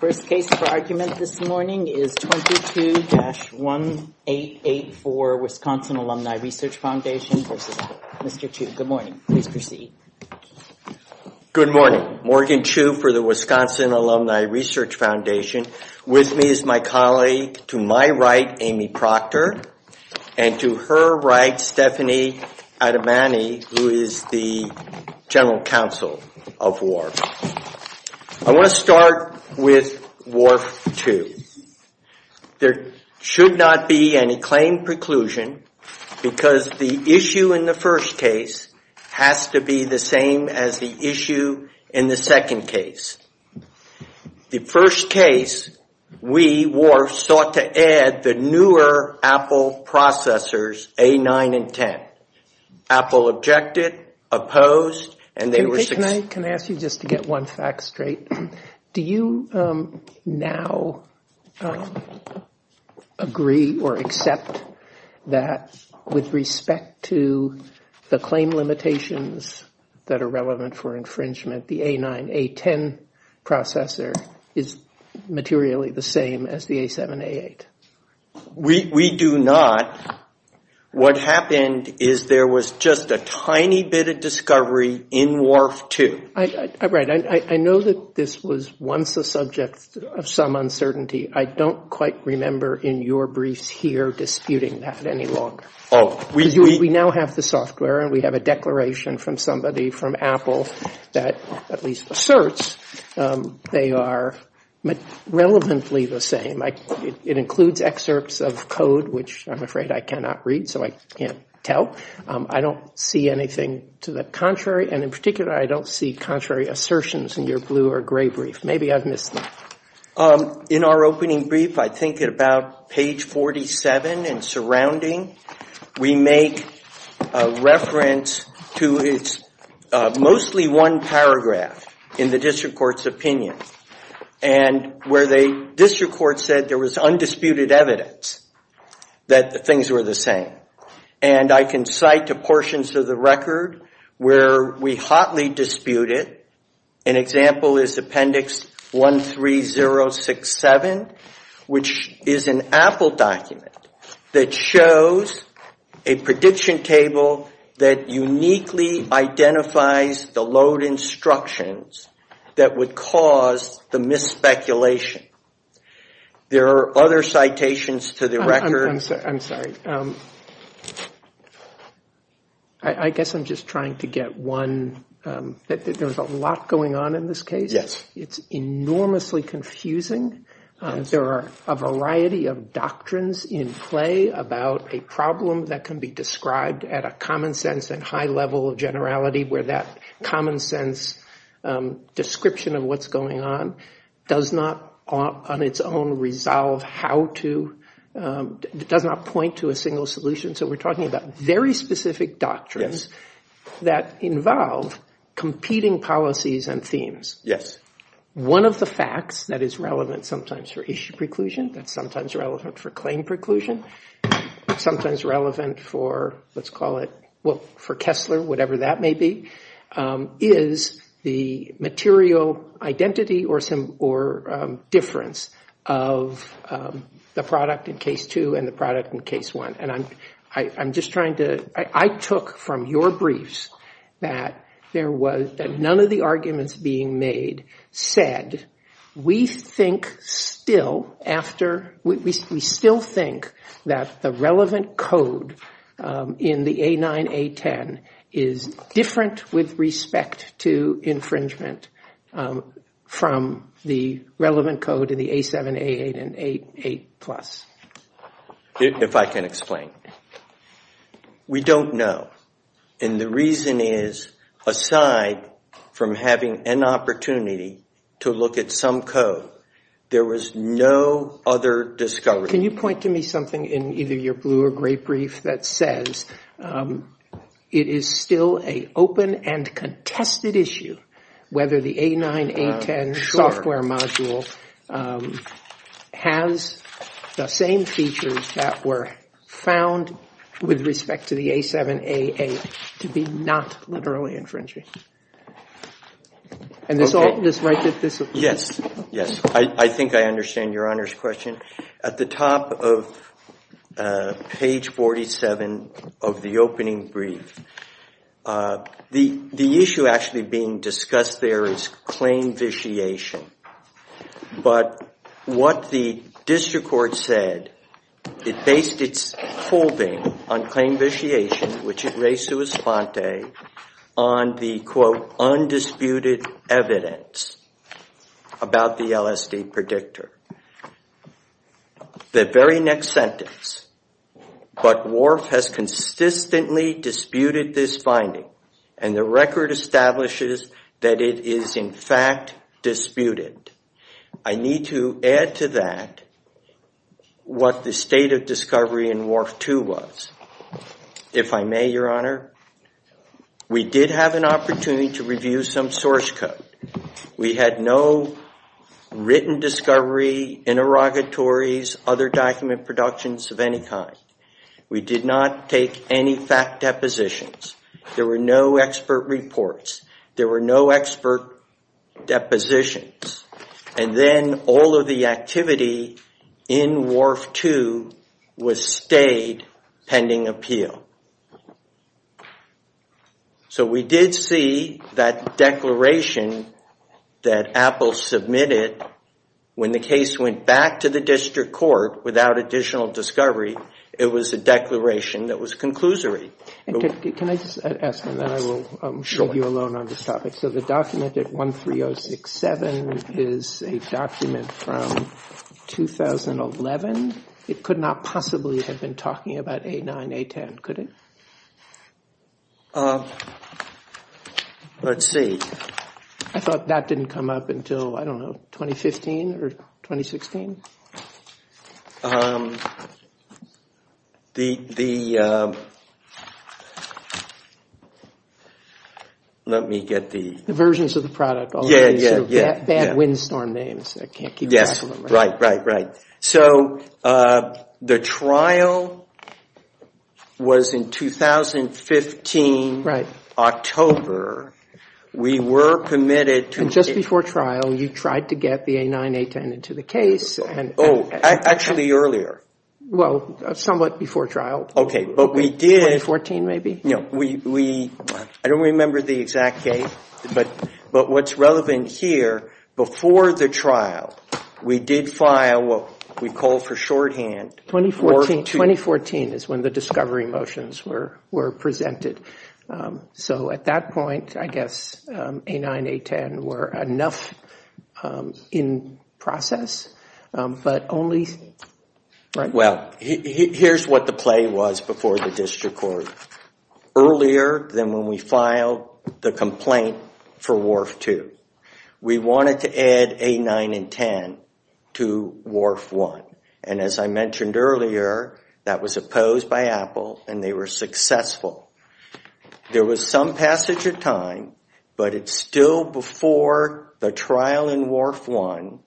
First case for argument this morning is 22-1884, Wisconsin Alumni Research Foundation. This is Mr. Chu. Good morning. Please proceed. Good morning. Morgan Chu for the Wisconsin Alumni Research Foundation. With me is my colleague, to my right, Amy Proctor. And to her right, Stephanie Adebany, who is the General Counsel of WARP. I want to start with WARP 2. There should not be any claim preclusion because the issue in the first case has to be the same as the issue in the second case. The first case, we, WARP, sought to add the newer Apple processors, A9 and 10. Apple objected, opposed, and they were successful. Can I ask you just to get one fact straight? Do you now agree or accept that with respect to the claim limitations that are relevant for infringement, the A9, A10 processor is materially the same as the A7, A8? We do not. What happened is there was just a tiny bit of discovery in WARP 2. Right. I know that this was once a subject of some uncertainty. I don't quite remember in your briefs here disputing that any longer. We now have the software and we have a declaration from somebody from Apple that at least asserts they are relevantly the same. It includes excerpts of code, which I'm afraid I cannot read, so I can't tell. I don't see anything to the contrary. In particular, I don't see contrary assertions in your blue or gray brief. Maybe I've missed one. In our opening brief, I think at about page 47 and surrounding, we make reference to mostly one paragraph in the district court's opinion. Where the district court said there was undisputed evidence that the things were the same. I can cite the portions of the record where we hotly dispute it. An example is Appendix 13067, which is an Apple document that shows a prediction table that uniquely identifies the load instructions that would cause the mis-speculation. There are other citations to the record. I'm sorry. I guess I'm just trying to get one. There's a lot going on in this case. Yes. It's enormously confusing. There are a variety of doctrines in play about a problem that can be described at a common sense and high level of generality where that common sense description of what's going on does not, on its own, point to a single solution. We're talking about very specific doctrines that involve competing policies and themes. Yes. One of the facts that is relevant sometimes for issue preclusion, that's sometimes relevant for claim preclusion, sometimes relevant for Kessler, whatever that may be, is the material identity or difference of the product in Case 2 and the product in Case 1. I took from your briefs that none of the arguments being made said we still think that the relevant code in the A9, A10 is different with respect to infringement from the relevant code in the A7, A8, and A8+. If I can explain. We don't know. The reason is, aside from having an opportunity to look at some code, there was no other discovery. Can you point to me something in either your blue or gray brief that says it is still an open and contested issue whether the A9, A10 software module has the same features that were found with respect to the A7, A8 to be not literally infringing? Yes. I think I understand Your Honor's question. At the top of page 47 of the opening brief, the issue actually being discussed there is claim vitiation. What the district court said, it based its holding on claim vitiation, which it raised to a sponte, on the, quote, undisputed evidence about the LSD predictor. The very next sentence, but WRF has consistently disputed this finding and the record establishes that it is in fact disputed. I need to add to that what the state of discovery in WRF2 was. If I may, Your Honor, we did have an opportunity to review some source code. We had no written discovery, interrogatories, other document productions of any kind. We did not take any fact depositions. There were no expert reports. There were no expert depositions. Then all of the activity in WRF2 was stayed pending appeal. We did see that declaration that Apple submitted when the case went back to the district court without additional discovery. It was a declaration that was conclusory. Can I ask, and then I will leave you alone on this topic. The document 13067 is a document from 2011. It could not possibly have been talking about A9, A10, could it? Let's see. I thought that didn't come up until, I don't know, 2015 or 2016? The, let me get the... The versions of the product. Yeah, yeah, yeah. Bad windstorm names. Yes, right, right, right. So the trial was in 2015, October. We were permitted to... Just before trial, you tried to get the A9, A10 into the case. Oh, actually earlier. Well, somewhat before trial. Okay, but we did... 2014 maybe? No, we, I don't remember the exact date, but what's relevant here, before the trial, we did file, we called for shorthand. 2014, 2014 is when the discovery motions were presented. So at that point, I guess A9, A10 were enough in process, but only... Well, here's what the play was before the district court. Earlier than when we filed the complaint for WARF 2, we wanted to add A9 and 10 to WARF 1. And as I mentioned earlier, that was opposed by Apple, and they were successful. There was some passage of time, but it's still before the trial in WARF 1,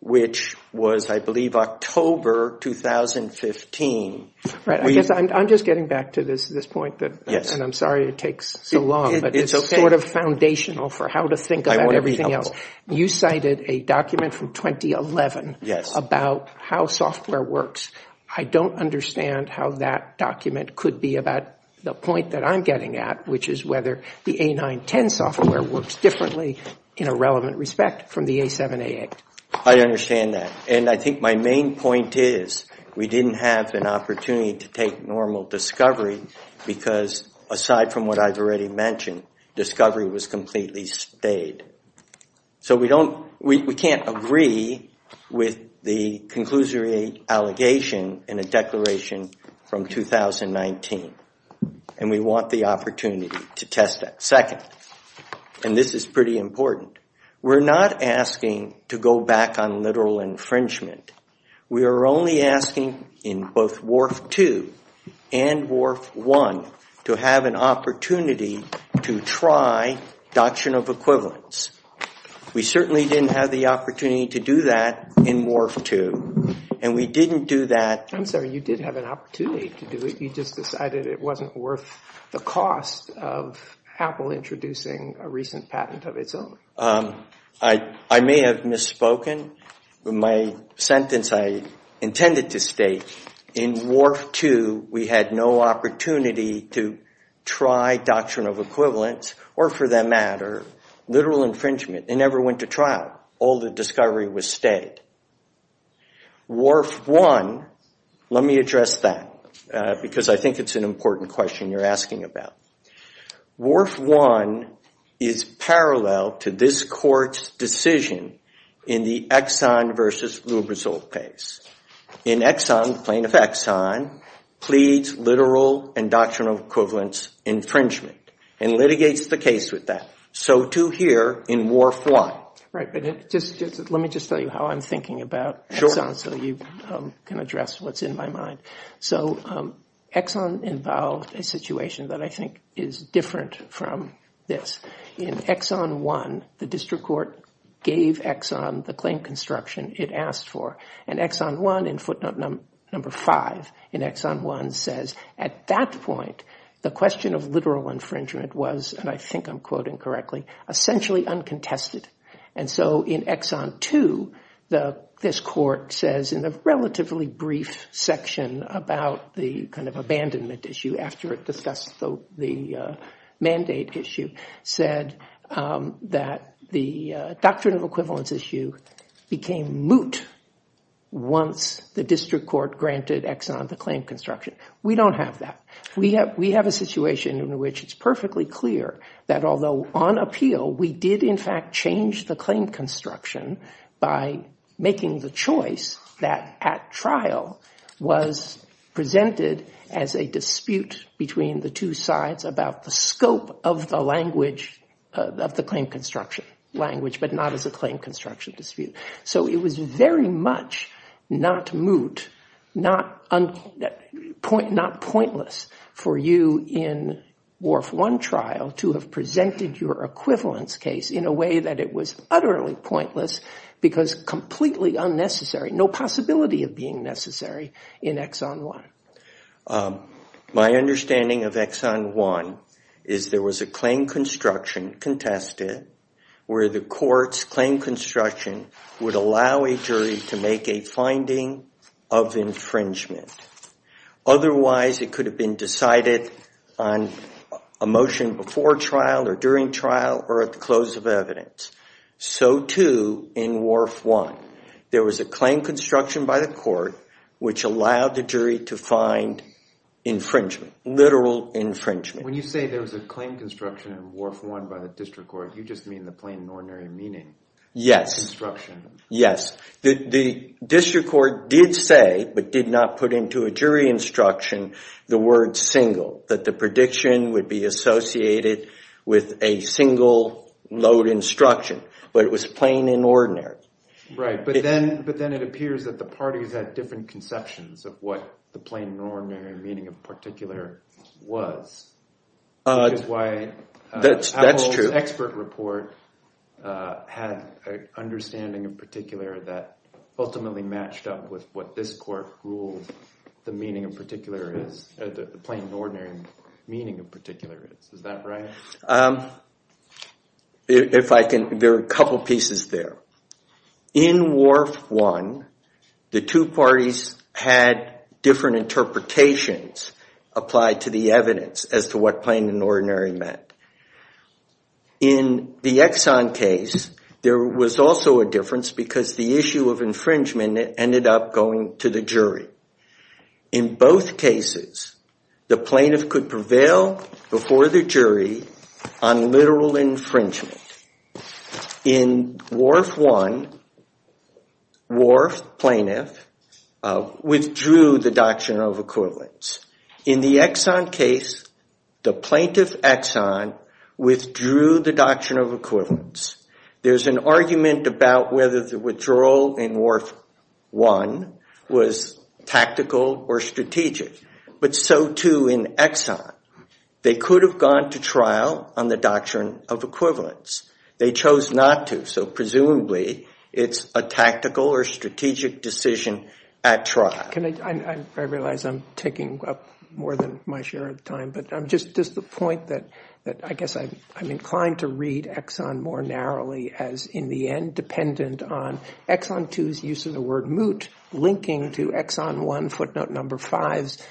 which was, I believe, October 2015. I'm just getting back to this point, and I'm sorry it takes so long, but it's sort of foundational for how to think about everything else. You cited a document from 2011 about how software works. I don't understand how that document could be about the point that I'm getting at, which is whether the A9, 10 software works differently in a relevant respect from the A7, A8. I understand that, and I think my main point is we didn't have an opportunity to take normal discovery because, aside from what I've already mentioned, discovery was completely stayed. So we can't agree with the conclusory allegation in a declaration from 2019, and we want the opportunity to test that. Second, and this is pretty important, we're not asking to go back on literal infringement. We are only asking in both WARF 2 and WARF 1 to have an opportunity to try doctrinal equivalence. We certainly didn't have the opportunity to do that in WARF 2, and we didn't do that... I'm sorry, you did have an opportunity to do it. You just decided it wasn't worth the cost of Apple introducing a recent patent of its own. I may have misspoken. My sentence I intended to state, in WARF 2, we had no opportunity to try doctrinal equivalence or, for that matter, literal infringement. It never went to trial. All the discovery was stayed. WARF 1, let me address that because I think it's an important question you're asking about. WARF 1 is parallel to this court's decision in the Exxon versus Lubrizol case. In Exxon, plaintiff Exxon, pleads literal and doctrinal equivalence infringement and litigates the case with that, so too here in WARF 1. Let me just tell you how I'm thinking about Exxon so you can address what's in my mind. Exxon involved a situation that I think is different from this. In Exxon 1, the district court gave Exxon the claim construction it asked for, and Exxon 1, in footnote number 5, in Exxon 1 says, at that point, the question of literal infringement was, and I think I'm quoting correctly, essentially uncontested. In Exxon 2, this court says, in a relatively brief section about the abandonment issue after it discussed the mandate issue, said that the doctrinal equivalence issue became moot once the district court granted Exxon the claim construction. We don't have that. We have a situation in which it's perfectly clear that although on appeal, we did in fact change the claim construction by making the choice that at trial was presented as a dispute between the two sides about the scope of the language of the claim construction, but not as a claim construction dispute. So it was very much not moot, not pointless for you in Wharf 1 trial to have presented your equivalence case in a way that it was utterly pointless because completely unnecessary, no possibility of being necessary in Exxon 1. My understanding of Exxon 1 is there was a claim construction contested where the court's claim construction would allow a jury to make a finding of infringement. Otherwise, it could have been decided on a motion before trial or during trial or at the close of evidence. So, too, in Wharf 1, there was a claim construction by the court which allowed the jury to find infringement, literal infringement. When you say there was a claim construction in Wharf 1 by the district court, you just mean the plain and ordinary meaning. Yes. Construction. Yes. The district court did say, but did not put into a jury instruction, the word single, that the prediction would be associated with a single load instruction, but it was plain and ordinary. Right, but then it appears that the parties had different conceptions of what the plain and ordinary meaning of particular was. That's why Apple's expert report had an understanding in particular that ultimately matched up with what this court ruled the plain and ordinary meaning of particular is. Is that right? There are a couple pieces there. In Wharf 1, the two parties had different interpretations of the claims applied to the evidence as to what plain and ordinary meant. In the Exxon case, there was also a difference because the issue of infringement ended up going to the jury. In both cases, the plaintiff could prevail before the jury on literal infringement. In Wharf 1, Wharf plaintiff withdrew the Doctrine of Equivalence. In the Exxon case, the plaintiff Exxon withdrew the Doctrine of Equivalence. There's an argument about whether the withdrawal in Wharf 1 was tactical or strategic, but so too in Exxon. They could have gone to trial on the Doctrine of Equivalence. They chose not to, so presumably it's a tactical or strategic decision at trial. I realize I'm taking up more than my share of the time, but just the point that I guess I'm inclined to read Exxon more narrowly as, in the end, dependent on Exxon 2's use of the word moot linking to Exxon 1, footnote number 5's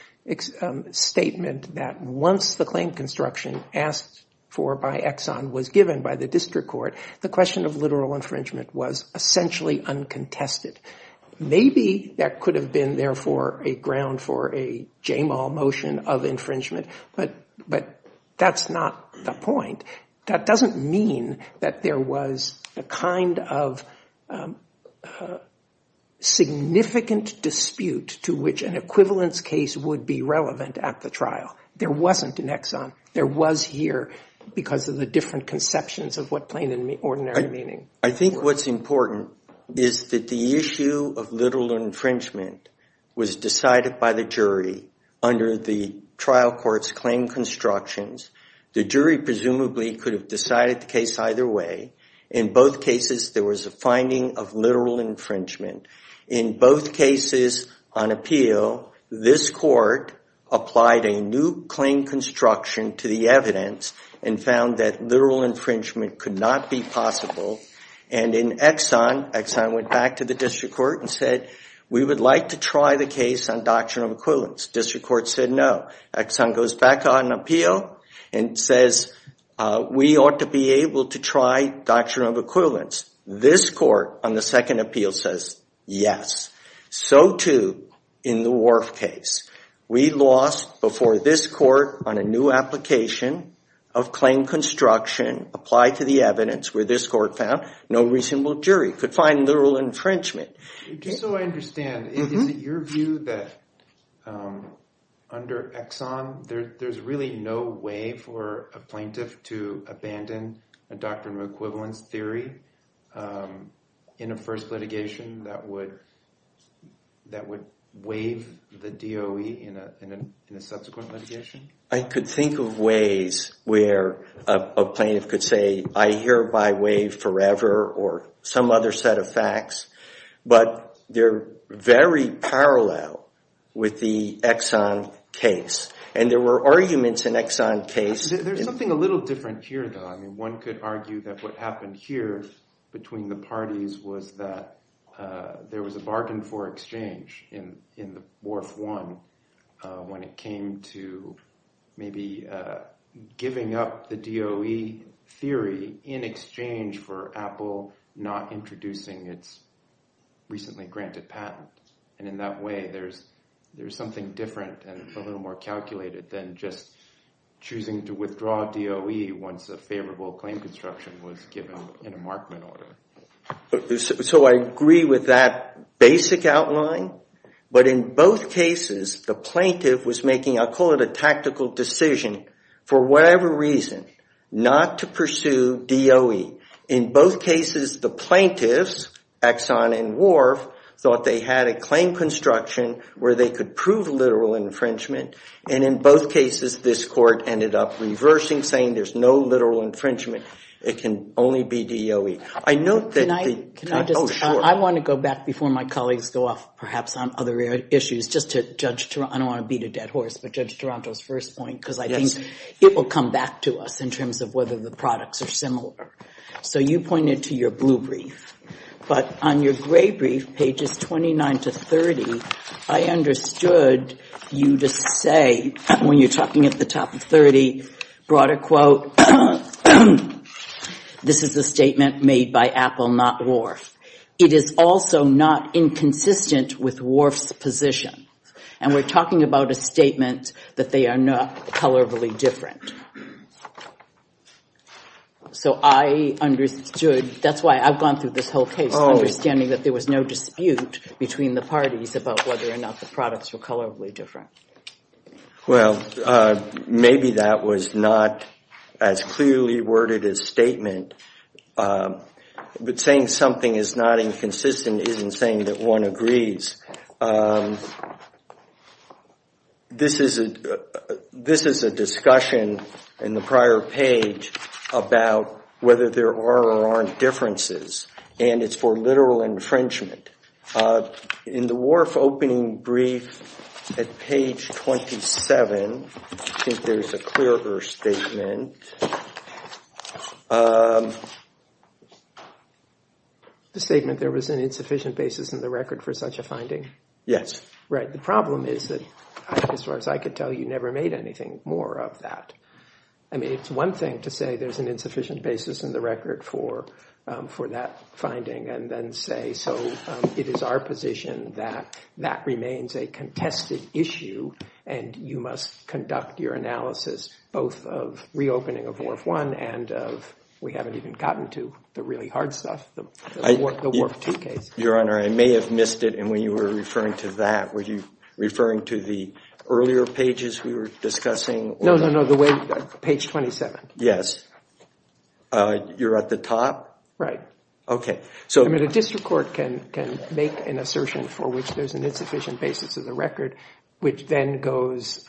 statement that once the claim construction asked for by Exxon was given by the district court, the question of literal infringement was essentially uncontested. Maybe that could have been, therefore, a ground for a Jamal motion of infringement, but that's not the point. That doesn't mean that there was a kind of significant dispute to which an equivalence case would be relevant at the trial. There wasn't in Exxon. There was here because of the different conceptions of what plain and ordinary meaning. I think what's important is that the issue of literal infringement was decided by the jury under the trial court's claim constructions. The jury presumably could have decided the case either way. In both cases, there was a finding of literal infringement. In both cases on appeal, this court applied a new claim construction to the evidence and found that literal infringement could not be possible, and in Exxon, Exxon went back to the district court and said, we would like to try the case on doctrinal equivalence. District court said no. Exxon goes back on appeal and says we ought to be able to try doctrinal equivalence. This court on the second appeal says yes. So too in the Wharf case. We lost before this court on a new application of claim construction applied to the evidence where this court found no reasonable jury could find literal infringement. Just so I understand, is it your view that under Exxon, there's really no way for a plaintiff to abandon a doctrinal equivalence theory in a first litigation that would waive the DOE in a subsequent litigation? I could think of ways where a plaintiff could say, I hereby waive forever or some other set of facts, but they're very parallel with the Exxon case, and there were arguments in Exxon case. There's something a little different here, though. I mean, one could argue that what happened here between the parties was that there was a bargain for exchange in the Wharf One when it came to maybe giving up the DOE theory in exchange for Apple not introducing its recently granted patent. And in that way, there's something different and a little more calculated than just choosing to withdraw DOE once a favorable claim construction was given in a Markman order. So I agree with that basic outline, but in both cases, the plaintiff was making, I'll call it a tactical decision, for whatever reason, not to pursue DOE. In both cases, the plaintiffs, Exxon and Wharf, thought they had a claim construction where they could prove literal infringement, and in both cases, this court ended up reversing, saying there's no literal infringement. It can only be DOE. I note that... Can I just... Oh, sure. I want to go back before my colleagues go off perhaps on other issues just to Judge Toronto. I don't want to beat a dead horse, but Judge Toronto's first point because I think it will come back to us in terms of whether the products are similar. So you pointed to your blue brief, but on your gray brief, pages 29 to 30, I understood you to say when you're talking at the top of 30, brought a quote. This is a statement made by Apple, not Wharf. It is also not inconsistent with Wharf's position, and we're talking about a statement that they are not colorably different. So I understood... That's why I've gone through this whole case, understanding that there was no dispute between the parties about whether or not the products were colorably different. Well, maybe that was not as clearly worded as statement, but saying something is not inconsistent isn't saying that one agrees. This is a discussion in the prior page about whether there are or aren't differences, and it's for literal infringement. In the Wharf opening brief at page 27, I think there's a clearer statement. The statement, there was an insufficient basis in the record for such a finding. Yes. The problem is that, as far as I could tell, you never made anything more of that. I mean, it's one thing to say there's an insufficient basis in the record for that finding, and then say, so it is our position that that remains a contested issue, and you must conduct your analysis both of reopening of Wharf 1 and of... We haven't even gotten to the really hard stuff, the Wharf 2 case. Your Honor, I may have missed it in when you were referring to that. Were you referring to the earlier pages we were discussing? No, no, no. The way... Page 27. Yes. You're at the top? Right. Okay. I mean, the district court can make an assertion for which there's an insufficient basis in the record, which then goes,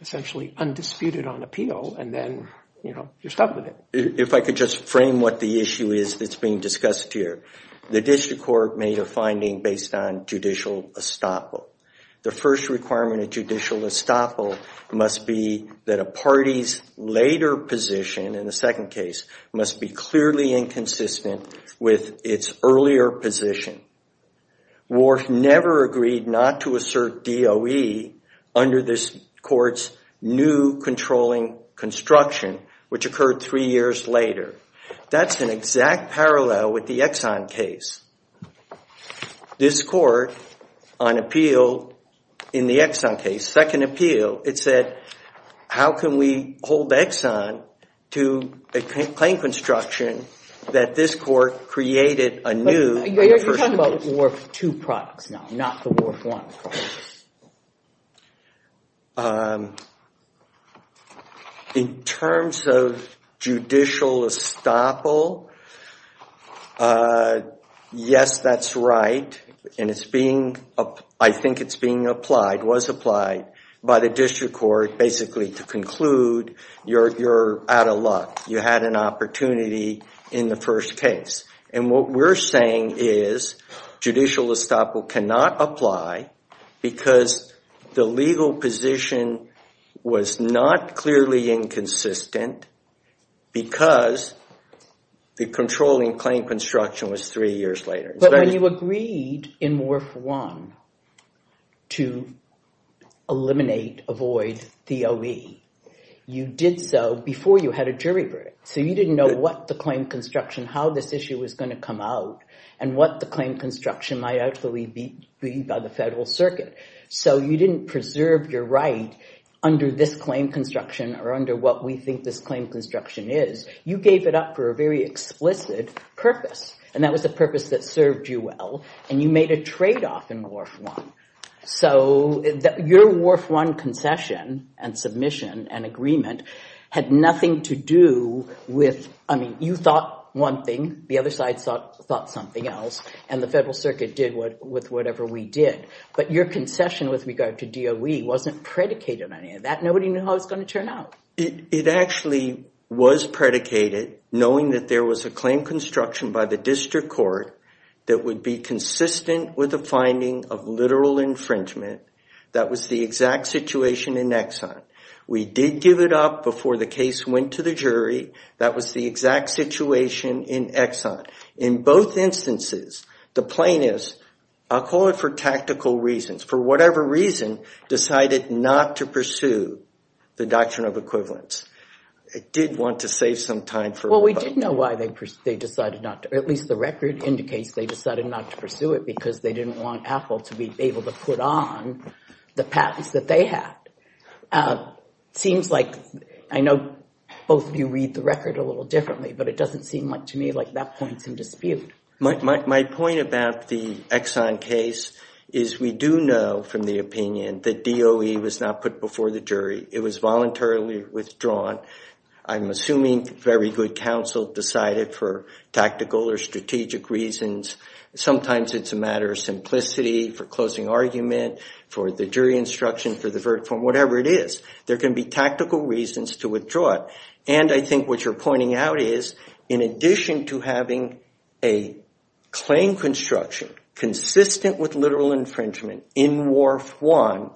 essentially, undisputed on appeal, and then, you know, you're stuck with it. If I could just frame what the issue is that's being discussed here. The district court made a finding based on judicial estoppel. The first requirement of judicial estoppel must be that a party's later position, in the second case, must be clearly inconsistent with its earlier position. Wharf never agreed not to assert DOE under this court's new controlling construction, which occurred three years later. That's an exact parallel with the Exxon case. This court, on appeal, in the Exxon case, second appeal, it said, how can we hold Exxon to a plain construction that this court created anew... But you're talking about the Wharf 2 project now, not the Wharf 1 project. In terms of judicial estoppel, yes, that's right. And it's being... I think it's being applied, was applied, by the district court, basically, to conclude you're out of luck. You had an opportunity in the first case. And what we're saying is judicial estoppel cannot apply because the legal position was not clearly inconsistent because the controlling plain construction was three years later. But when you agreed in Wharf 1 to eliminate, avoid DOE, you did so before you had a jury break. So you didn't know what the plain construction, how this issue was going to come out, and what the plain construction might actually be by the federal circuit. So you didn't preserve your right under this plain construction or under what we think this plain construction is. You gave it up for a very explicit purpose. And that was a purpose that served you well. And you made a trade-off in Wharf 1. So your Wharf 1 concession and submission and agreement had nothing to do with... I mean, you thought one thing, the other side thought something else, and the federal circuit did with whatever we did. But your concession with regard to DOE wasn't predicated on any of that. Nobody knew how it was going to turn out. It actually was predicated knowing that there was a claim construction by the district court that would be consistent with a finding of literal infringement. That was the exact situation in Exxon. We did give it up before the case went to the jury. That was the exact situation in Exxon. In both instances, the plaintiffs, I'll call it for tactical reasons, for whatever reason, decided not to pursue the Doctrine of Equivalence. They did want to save some time for... Well, we do know why they decided not to. At least the record indicates they decided not to pursue it because they didn't want AFL to be able to put on the patent that they had. Seems like... I know both of you read the record a little differently, but it doesn't seem like to me like that point's in dispute. My point about the Exxon case is we do know from the opinion that DOE was not put before the jury. It was voluntarily withdrawn. I'm assuming very good counsel decided for tactical or strategic reasons. Sometimes it's a matter of simplicity for closing argument, for the jury instruction, for the verdict, for whatever it is. There can be tactical reasons to withdraw it. And I think what you're pointing out is in addition to having a claim construction consistent with literal infringement in WARF I,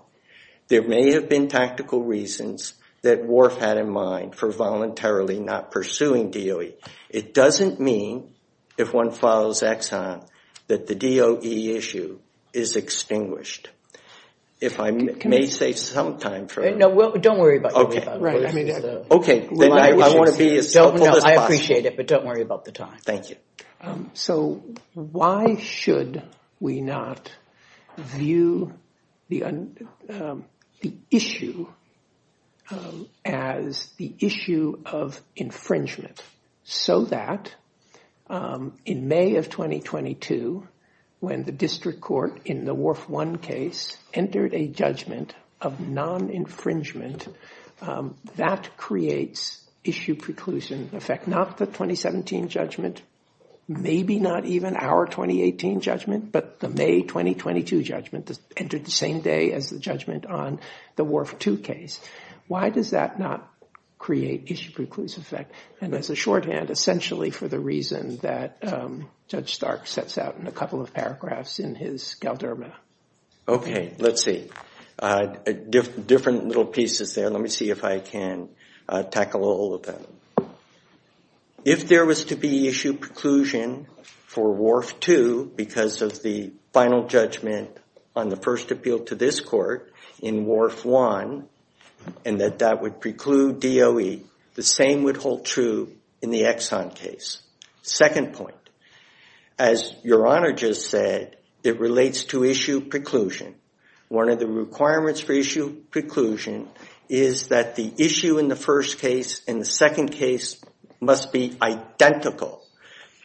there may have been tactical reasons that WARF had in mind for voluntarily not pursuing DOE. It doesn't mean, if one follows Exxon, that the DOE issue is extinguished. If I may say sometime... No, don't worry about it. Okay, then I want to be as simple as possible. I appreciate it, but don't worry about the time. Thank you. So why should we not view the issue as the issue of infringement so that in May of 2022, when the district court in the WARF I case entered a judgment of non-infringement, that creates issue preclusion effect, not the 2017 judgment, maybe not even our 2018 judgment, but the May 2022 judgment that entered the same day as the judgment on the WARF II case. Why does that not create issue preclusion effect? And as a shorthand, essentially for the reason that Judge Stark sets out in a couple of paragraphs in his Galderma. Okay, let's see. Different little pieces there. Let me see if I can tackle all of them. If there was to be issue preclusion for WARF II because of the final judgment on the first appeal to this court in WARF I and that that would preclude DOE, the same would hold true in the Exxon case. Second point. As Your Honor just said, it relates to issue preclusion. One of the requirements for issue preclusion is that the issue in the first case and the second case must be identical.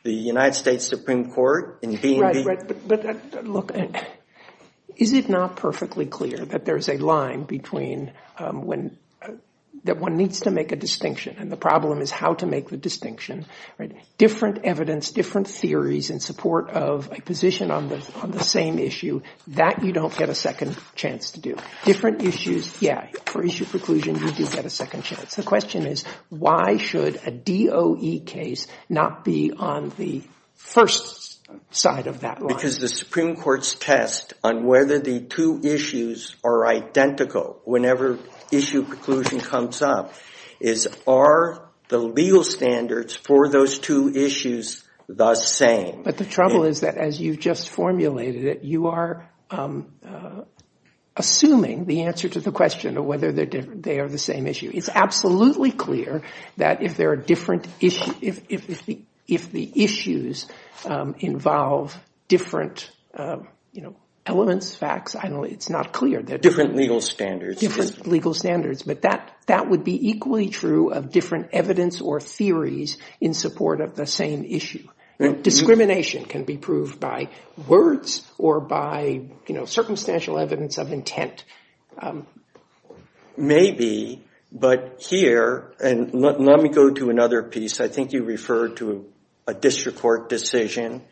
The United States Supreme Court in being- Right, but look, is it not perfectly clear that there's a line between that one needs to make a distinction and the problem is how to make the distinction? Different evidence, different theories in support of a position on the same issue, that you don't get a second chance to do. Different issues, yeah, for issue preclusion you do get a second chance. The question is why should a DOE case not be on the first side of that line? Because the Supreme Court's test on whether the two issues are identical whenever issue preclusion comes up is are the legal standards for those two issues the same? But the trouble is that as you just formulated it, you are assuming the answer to the question of whether they are the same issue. It's absolutely clear that if there are different issues, if the issues involve different elements, facts, it's not clear that- Different legal standards. Different legal standards, but that would be equally true of different evidence or theories in support of the same issue. Discrimination can be proved by words or by circumstantial evidence of intent. Maybe, but here, and let me go to another piece. I think you referred to a district court decision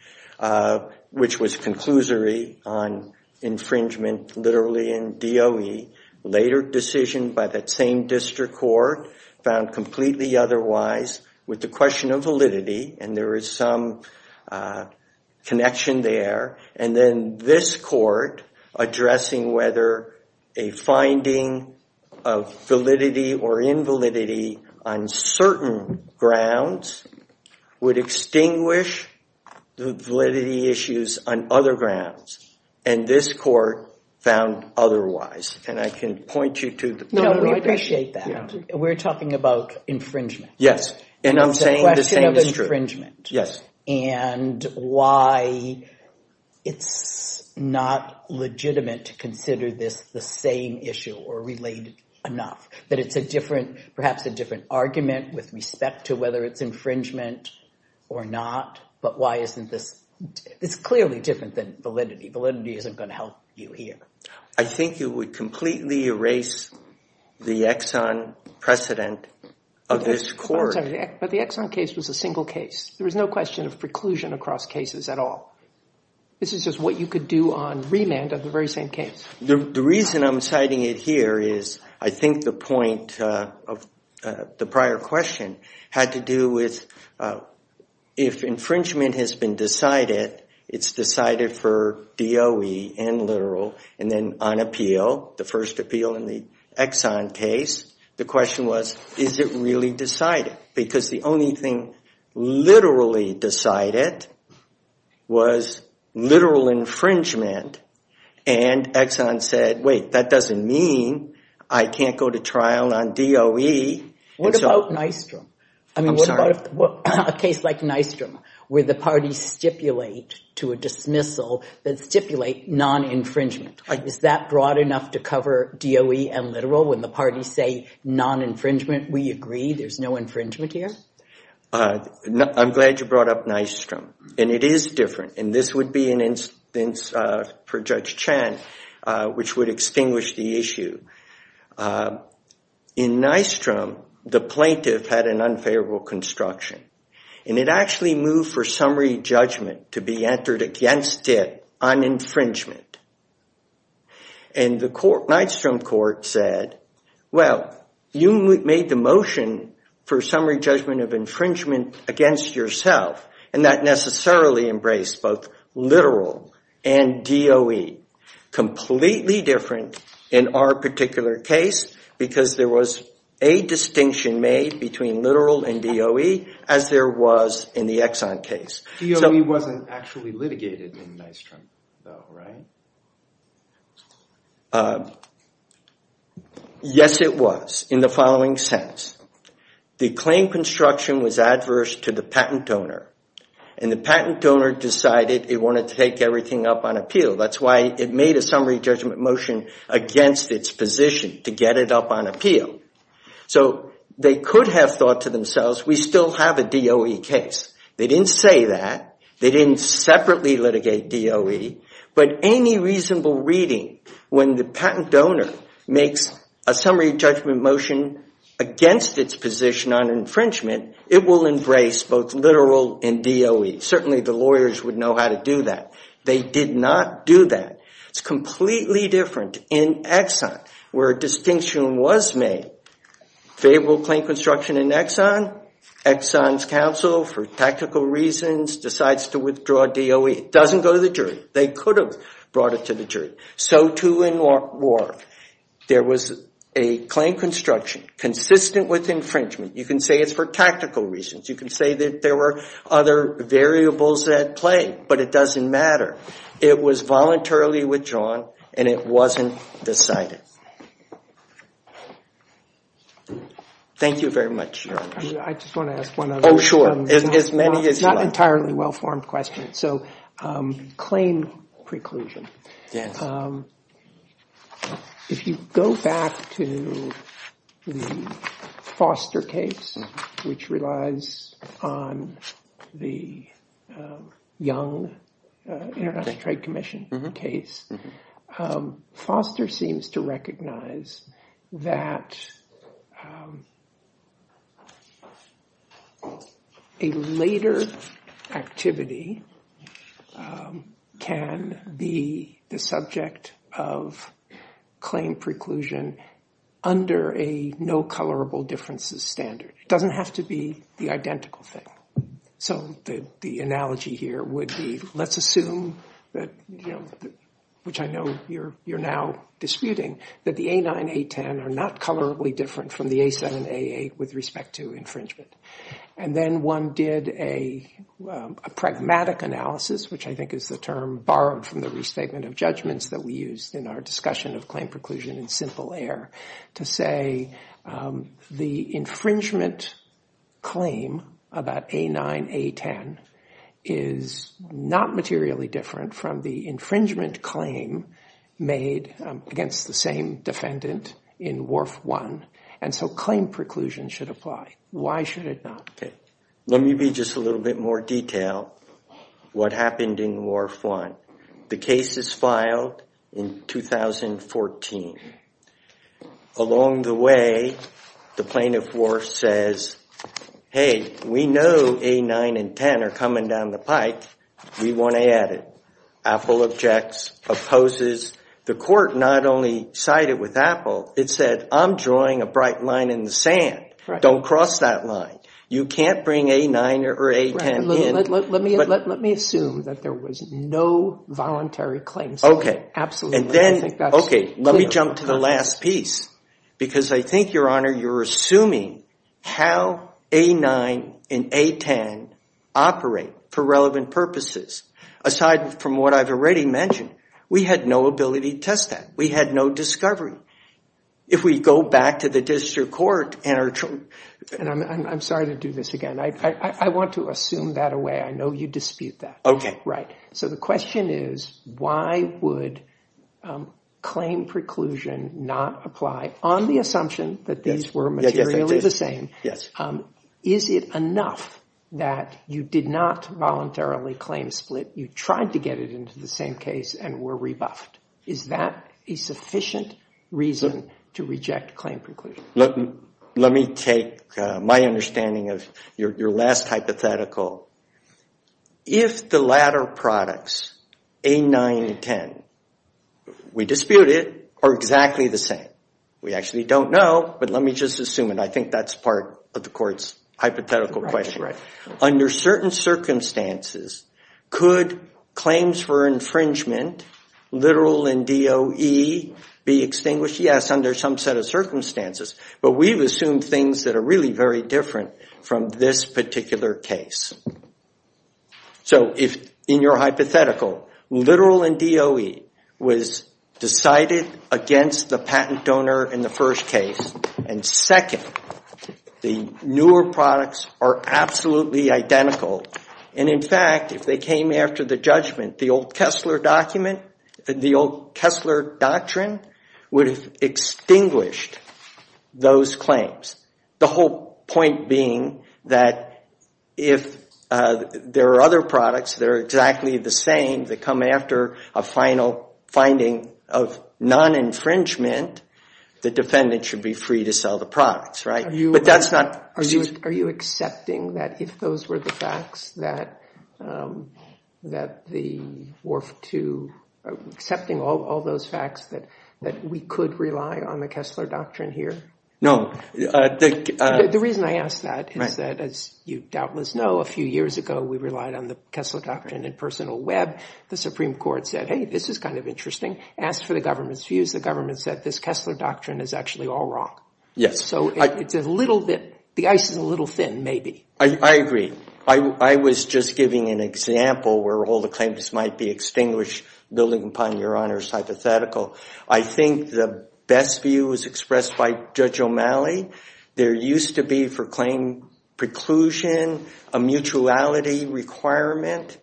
which was conclusory on infringement, literally in DOE, later decision by that same district court found completely otherwise with the question of validity and there is some connection there and then this court addressing whether a finding of validity or invalidity on certain grounds would extinguish the validity issues on other grounds and this court found otherwise and I can point you to- No, we appreciate that. We're talking about infringement. Yes, and I'm saying- It's a question of infringement and why it's not legitimate to consider this the same issue or related enough but it's a different, perhaps a different argument with respect to whether it's infringement or not but why isn't this, it's clearly different than validity. Validity isn't going to help you here. I think you would completely erase the Exxon precedent of this court. But the Exxon case was a single case. There was no question of preclusion across cases at all. This is just what you could do on reland of the very same case. The reason I'm citing it here is I think the point of the prior question had to do with if infringement has been decided, it's decided for DOE and literal and then on appeal, the first appeal in the Exxon case, the question was, is it really decided? Because the only thing literally decided was literal infringement and Exxon said, wait, that doesn't mean I can't go to trial on DOE. What about Nystrom? I'm sorry. I mean, what about a case like Nystrom where the parties stipulate to a dismissal that stipulate non-infringement? Is that broad enough to cover DOE and literal when the parties say non-infringement, we agree there's no infringement here? I'm glad you brought up Nystrom and it is different and this would be an instance for Judge Chan which would extinguish the issue. In Nystrom, the plaintiff had an unfavorable construction and it actually moved for summary judgment to be entered against it on infringement. And the Nystrom court said, well, you made the motion for summary judgment of infringement against yourself and that necessarily embraced both literal and DOE. Completely different in our particular case because there was a distinction made between literal and DOE as there was in the Exxon case. DOE wasn't actually litigated in Nystrom though, right? Yes, it was in the following sense. The claim construction was adverse to the patent owner and the patent owner decided it wanted to take everything up on appeal. That's why it made a summary judgment motion against its position to get it up on appeal. So they could have thought to themselves, we still have a DOE case. They didn't say that. They didn't separately litigate DOE but any reasonable reading when the patent donor makes a summary judgment motion against its position on infringement, it will embrace both literal and DOE. Certainly the lawyers would know how to do that. They did not do that. It's completely different in Exxon where a distinction was made. Favorable claim construction in Exxon, Exxon's counsel for tactical reasons decides to withdraw DOE. It doesn't go to the jury. They could have brought it to the jury. So too in Warrick. There was a claim construction consistent with infringement. You can say it's for tactical reasons. You can say that there were other variables at play but it doesn't matter. It was voluntarily withdrawn and it wasn't decided. Thank you very much. I just want to add one other thing. Oh, sure. It's not an entirely well-formed question. Claim preclusion. If you go back to the Foster case which relies on the Young International Trade Commission case, Foster seems to recognize that a later activity can be the subject of claim preclusion under a no colorable differences standard. It doesn't have to be the identical thing. So the analogy here would be let's assume that which I know you're now disputing that the A9, A10 are not colorably different from the A7, A8 with respect to infringement. And then one did a pragmatic analysis which I think is the term borrowed from the restatement of judgments that we used in our discussion of claim preclusion in simple air to say the infringement claim about A9, A10 is not materially different from the infringement claim made against the same defendant in WARF-1. And so claim preclusion should apply. Why should it not? Let me give you just a little bit more detail what happened in WARF-1. The case is filed in 2014. Along the way, the plaintiff war says, hey, we know A9 and A10 are coming down the pike. We want to add it. Apple objects, opposes. The court not only sided with Apple, it said, I'm drawing a bright line in the sand. Don't cross that line. You can't bring A9 or A10 in. Let me assume that there was no voluntary claim. OK. OK, let me jump to the last piece because I think, Your Honor, you're assuming how A9 and A10 operate for relevant purposes. Aside from what I've already mentioned, we had no ability to test that. We had no discovery. If we go back to the district court and are trying to- And I'm sorry to do this again. I want to assume that away. I know you dispute that. OK. So the question is, why would claim preclusion not apply on the assumption that these were materially the same? Yes. Is it enough that you did not voluntarily claim split? You tried to get it into the same case and were rebuffed. Is that a sufficient reason to reject claim preclusion? Let me take my understanding of your last hypothetical. If the latter products, A9 and A10, we dispute it, are exactly the same. We actually don't know, but let me just assume it. I think that's part of the court's hypothetical question. Right. Under certain circumstances, could claims for infringement, literal and DOE, be extinguished? Yes, under some set of circumstances. But we've assumed things that are really very different from this particular case. So in your hypothetical, literal and DOE was decided against the patent donor in the first case. And second, the newer products are absolutely identical. And in fact, if they came after the judgment, the old Kessler document, the old Kessler doctrine, would have extinguished those claims. The whole point being that if there are other products that are exactly the same, that come after a final finding of non-infringement, the defendant should be free to sell the products. Right? But that's not. Are you accepting that if those were the facts, that the Wharf II, accepting all those facts, that we could rely on the Kessler doctrine here? No. The reason I ask that is that, as you doubtless know, a few years ago, we relied on the Kessler doctrine in personal web. The Supreme Court said, hey, this is kind of interesting. Ask for the government's views. The government said, this Kessler doctrine is actually all wrong. Yes. So it's a little bit. The ice is a little thin, maybe. I agree. I was just giving an example where all the claims might be extinguished, building upon Your Honor's hypothetical. I think the best view was expressed by Judge O'Malley. There used to be, for claim preclusion, a mutuality requirement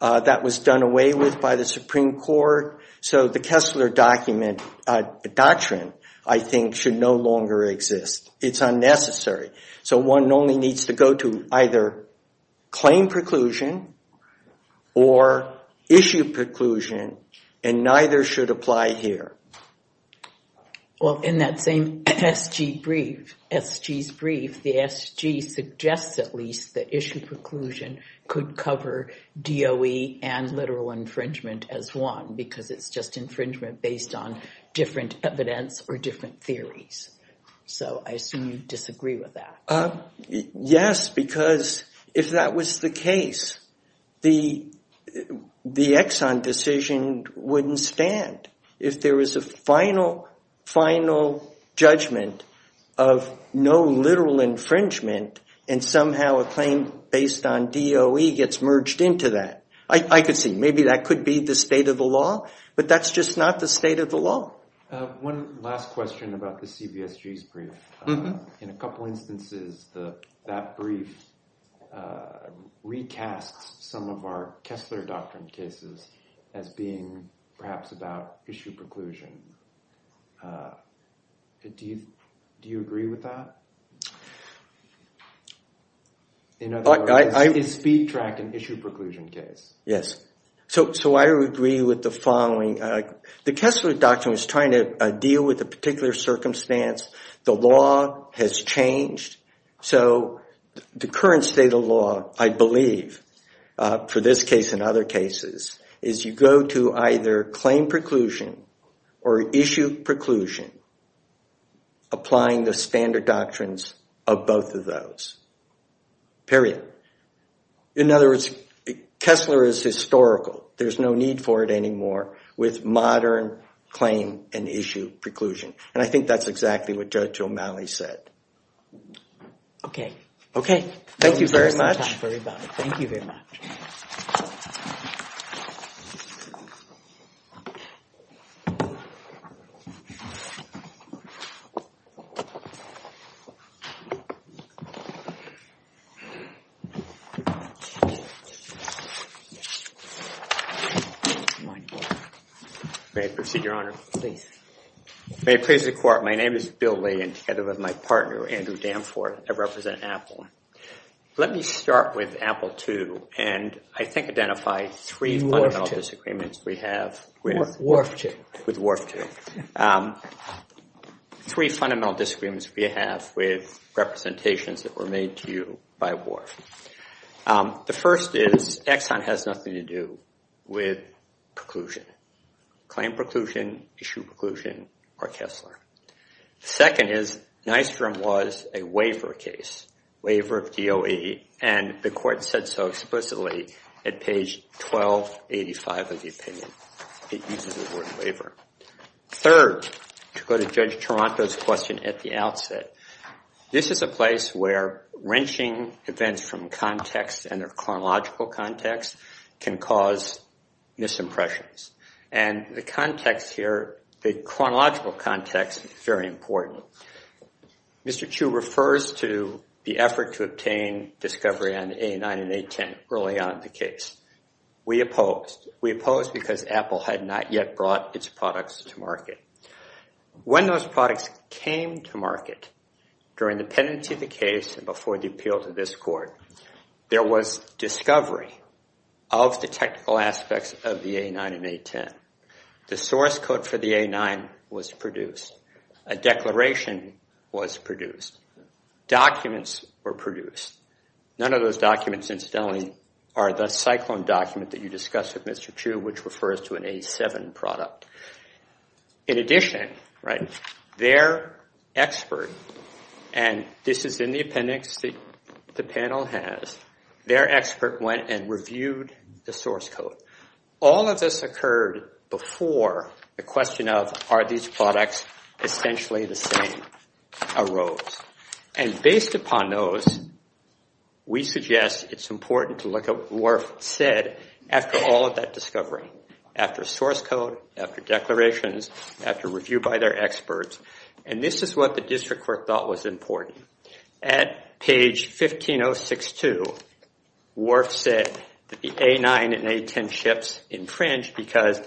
that was done away with by the Supreme Court. So the Kessler doctrine, I think, should no longer exist. It's unnecessary. So one only needs to go to either claim preclusion or issue preclusion, and neither should apply here. Well, in that same SG's brief, the SG suggests at least that issue preclusion could cover DOE and literal infringement as one, because it's just infringement based on different evidence or different theories. So I assume you disagree with that. Yes, because if that was the case, the Exxon decision wouldn't stand. If there was a final, final judgment of no literal infringement, and somehow a claim based on DOE gets merged into that. I could see. Maybe that could be the state of the law, but that's just not the state of the law. One last question about the CBSG's brief. In a couple instances, that brief recasts some of our Kessler doctrine cases as being perhaps about issue preclusion. Do you agree with that? In other words, it's a speed track and issue preclusion case. Yes. So I would agree with the following. The Kessler doctrine is trying to deal with a particular circumstance. The law has changed. So the current state of the law, I believe, for this case and other cases, is you go to either claim preclusion or issue preclusion, applying the standard doctrines of both of those, period. In other words, Kessler is historical. There's no need for it anymore with modern claim and issue preclusion. And I think that's exactly what Judge O'Malley said. OK. Thank you very much. Thank you very much. Thank you very much. May I proceed, Your Honor? Please. May it please the court. My name is Bill Lee. And together with my partner, Andrew Danforth, I represent Apple. Let me start with Apple II and I think identify three fundamental disagreements we have with it. The first one is that Apple II is not a legal entity. It's not a legal entity. Three fundamental disagreements we have with representations that were made to you by war. The first is Exxon has nothing to do with preclusion, claim preclusion, issue preclusion, or Kessler. Second is Nystrom was a waiver case, waiver DOA. And the court said so explicitly at page 1285 of the opinion. It uses the word waiver. Third, to go to Judge Taranto's question at the outset, this is a place where wrenching defense from context and a chronological context can cause misimpressions. And the context here, the chronological context, is very important. Mr. Chu refers to the effort to obtain discovery on A9 and A10 early on in the case. We opposed. We opposed because Apple had not yet brought its products to market. When those products came to market during the pendency of the case and before the appeals of this court, there was discovery of the technical aspects of the A9 and A10. The source code for the A9 was produced. A declaration was produced. Documents were produced. None of those documents incidentally are that Cyclone document that you discussed with Mr. Chu, which refers to an A7 product. In addition, their expert, and this has been the appendix the panel has, their expert went and reviewed the source code. All of this occurred before the question of are these products potentially the same arose. And based upon those, we suggest it's After source code, after declarations, after review by their experts. And this is what the district court thought was important. At page 15062, Worf said that the A9 and A10 ships entrenched because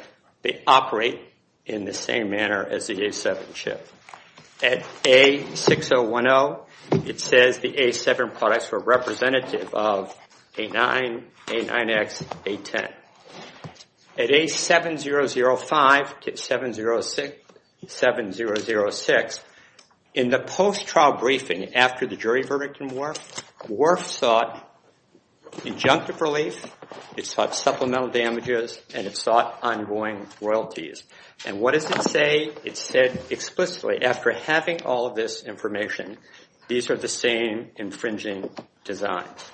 they operate in the same manner as the A7 ship. At A6010, it says the A7 products were representative of A9, A9X, A10. At A7005 to 7006, in the post-trial briefing after the jury verdict in Worf, Worf sought injunctive relief, it sought supplemental damages, and it sought ongoing royalties. And what does it say? It said explicitly, after having all of this information, these are the same infringing designs.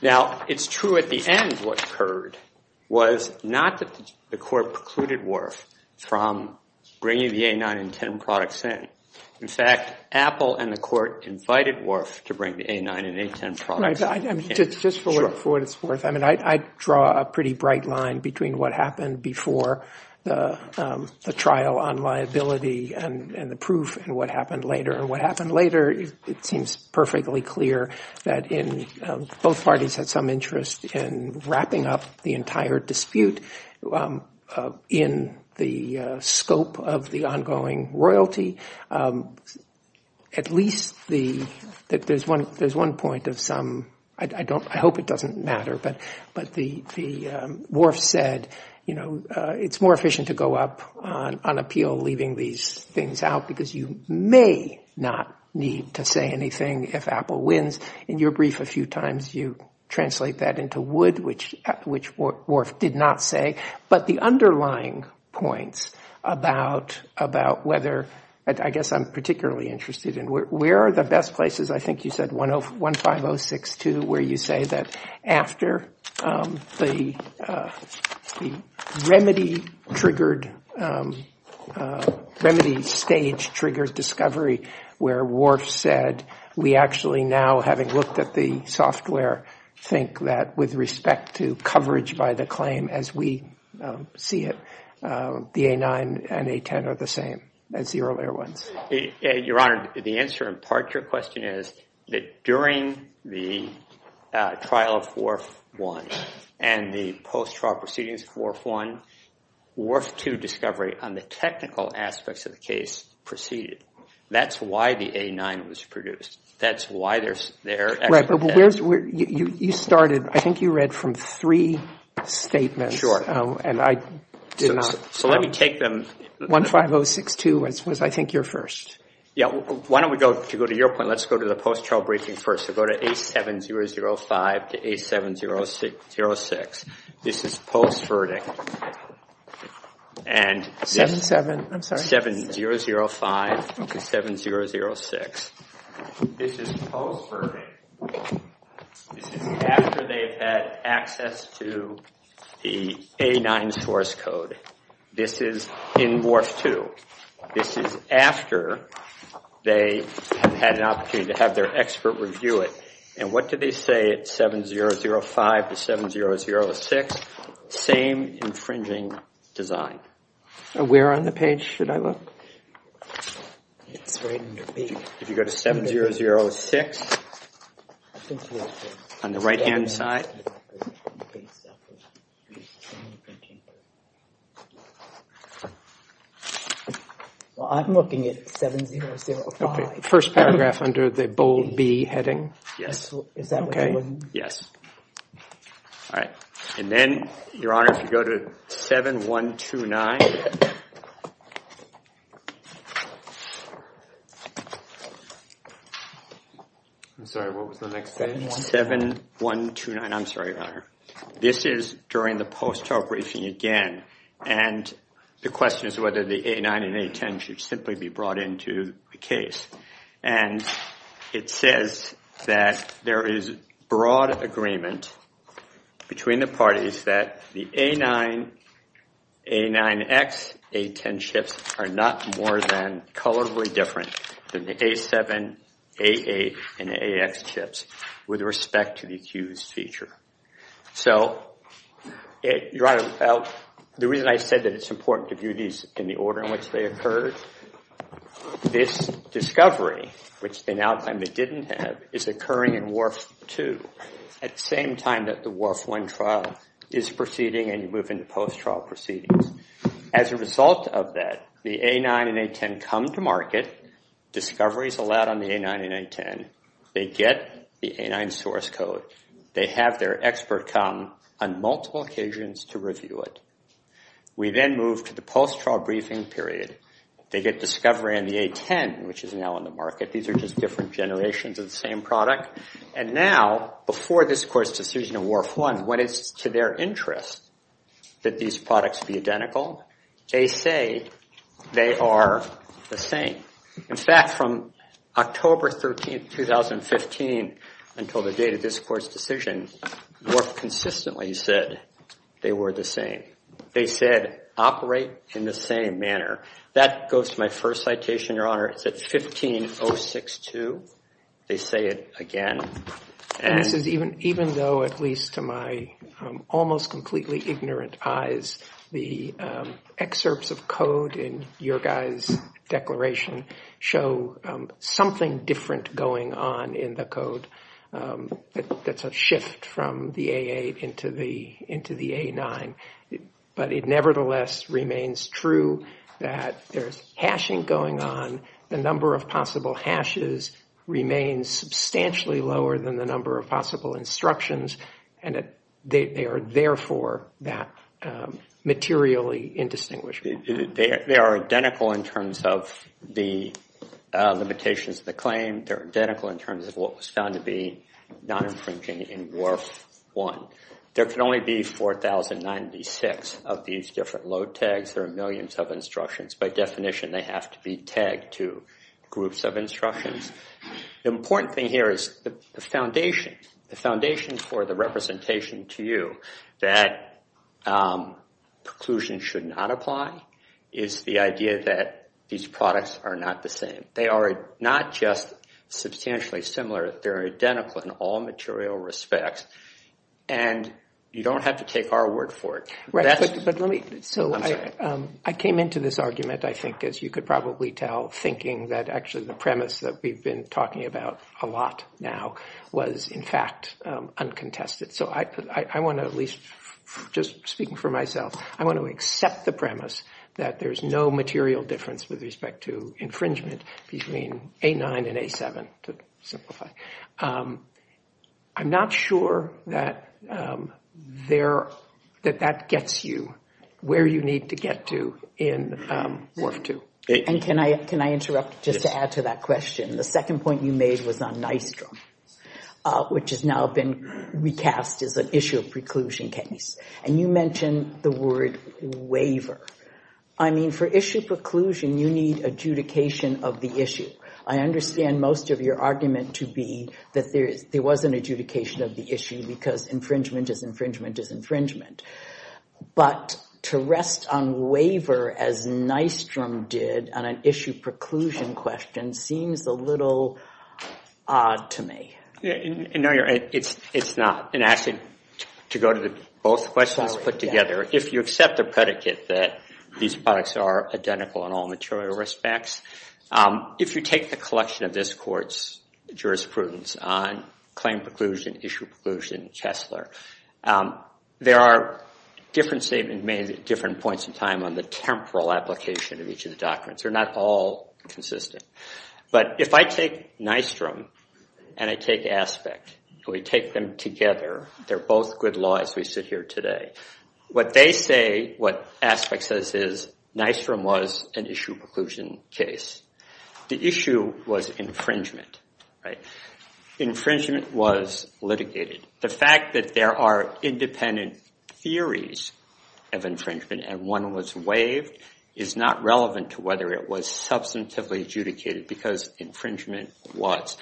Now, it's true at the end what occurred was not that the court precluded Worf from bringing the A9 and A10 products in. In fact, Apple and the court invited Worf to bring the A9 and A10 products in. Just for what it's worth, I draw a pretty bright line between what happened before the trial on liability and the proof and what happened later and what happened later. It seems perfectly clear that both parties had some interest in wrapping up the entire dispute in the scope of the ongoing royalty. At least there's one point of some, I hope it doesn't matter, but Worf said it's more efficient to go up on appeal leaving these things out, because you may not need to say anything if Apple wins. In your brief a few times, you translate that into wood, which Worf did not say. But the underlying points about whether, I guess I'm particularly interested in, where are the best places? I think you said 15062, where you stage triggers discovery, where Worf said, we actually now, having looked at the software, think that with respect to coverage by the claim as we see it, the A9 and A10 are the same as the earlier ones. Your Honor, the answer in part to your question is that during the trial of Worf I and the post-trial proceedings of Worf I, Worf II discovery on the technical aspects of the case preceded. That's why the A9 was produced. That's why there's there. You started, I think you read from three statements. Sure. And I did not. So let me take them. 15062 was, I think, your first. Yeah, why don't we go, if you go to your point, let's go to the post-trial briefing first. So go to 87005 to 87006. This is post-verdict. And 7005 to 7006. This is post-verdict. This is after they had access to the A9 source code. This is in Worf II. This is after they had an opportunity to have their expert review it. And what did they say at 7005 to 7006? Same infringing design. Where on the page should I look? If you go to 7006, on the right-hand side. Well, I'm looking at 7005. First paragraph under the bold B heading. Yes. OK. Yes. All right. And then, Your Honor, if you go to 7129. I'm sorry, what was the next page? 7129. I'm sorry, Your Honor. This is during the post-trial briefing again. And the question is whether the A9 and A10 should simply be brought into the case. And it says that there is broad agreement between the parties that the A9, A9X, A10 chips are not more than colorfully different than the A7, A8, and the AX chips with respect to the Q's feature. So Your Honor, the reason I said that it's in the order in which they occurred, this discovery, which they now claim they didn't have, is occurring in WARF-2 at the same time that the WARF-1 trial is proceeding and moving to post-trial proceedings. As a result of that, the A9 and A10 come to market. Discovery is allowed on the A9 and A10. They get the A9 source code. They have their expert come on multiple occasions to review it. We then move to the post-trial briefing period. They get discovery on the A10, which is now on the market. These are just different generations of the same product. And now, before this court's decision in WARF-1, when it's to their interest that these products be identical, they say they are the same. In fact, from October 13, 2015 until the date of this court's decision, WARF consistently said they were the same. They said, operate in the same manner. That goes to my first citation, Your Honor, the 15062. They say it again. Even though, at least to my almost completely ignorant eyes, the excerpts of code in your guys' declaration show something different going on in the code. It's a shift from the AA into the A9. But it nevertheless remains true that there's hashing going on. The number of possible hashes remains substantially lower than the number of possible instructions. And they are, therefore, materially indistinguishable. They are identical in terms of the limitations of the claim. They're identical in terms of what was found to be non-infringing in WARF-1. There can only be 4,096 of these different load tags. There are millions of instructions. By definition, they have to be tagged to groups of instructions. The important thing here is the foundations for the representation to you that preclusion should not apply is the idea that these products are not the same. They are not just substantially similar. They're identical in all material respects. And you don't have to take our word for it. So I came into this argument, I think, as you could probably tell, thinking that actually the premise that we've been talking about a lot now was, in fact, uncontested. So I want to at least, just speaking for myself, I want to accept the premise that there's no material difference with respect to infringement between A9 and A7, to simplify. I'm not sure that that gets you where you need to get to in WARF-2. And can I interrupt just to add to that question? The second point you made was on nitrogen, which has now been recast as an issue of preclusion case. And you mentioned the word waiver. I mean, for issue preclusion, you need adjudication of the issue. I understand most of your argument to be that there wasn't adjudication of the issue because infringement is infringement is infringement. But to rest on waiver, as Nystrom did on an issue preclusion question, seems a little odd to me. It's not. And actually, to go to both questions put together, if you accept the predicate that these products are identical in all material respects, if you take the collection of this court's jurisprudence on claim preclusion, issue preclusion, Chesler, there are different statements made at different points in time on the temporal application of each of the documents. They're not all consistent. But if I take Nystrom and I take Aspect, if we take them together, they're both good laws we sit here today. What they say, what Aspect says, is Nystrom was an issue preclusion case. The issue was infringement. Infringement was litigated. The fact that there are independent theories of infringement and one was waived is not relevant to whether it was substantively adjudicated because infringement was.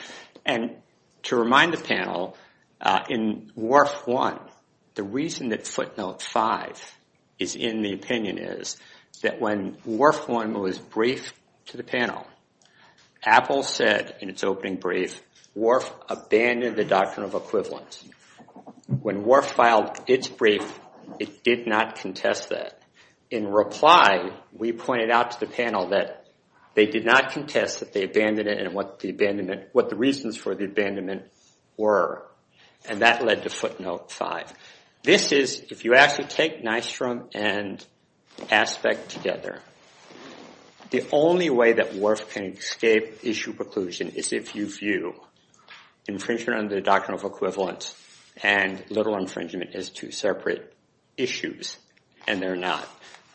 And to remind the panel, in WARF 1, the reason that footnote 5 is in the opinion is that when WARF 1 was briefed to the panel, Apple said in its opening brief, WARF abandoned the doctrine of equivalence. When WARF filed its brief, it did not contest that. In reply, we pointed out to the panel that they did not contest that they abandoned it and what the reasons for the abandonment were. And that led to footnote 5. This is, if you ask to take Nystrom and Aspect together, the only way that WARF can escape issue preclusion is if you view infringement under the doctrine of equivalence and literal infringement as two separate issues. And they're not.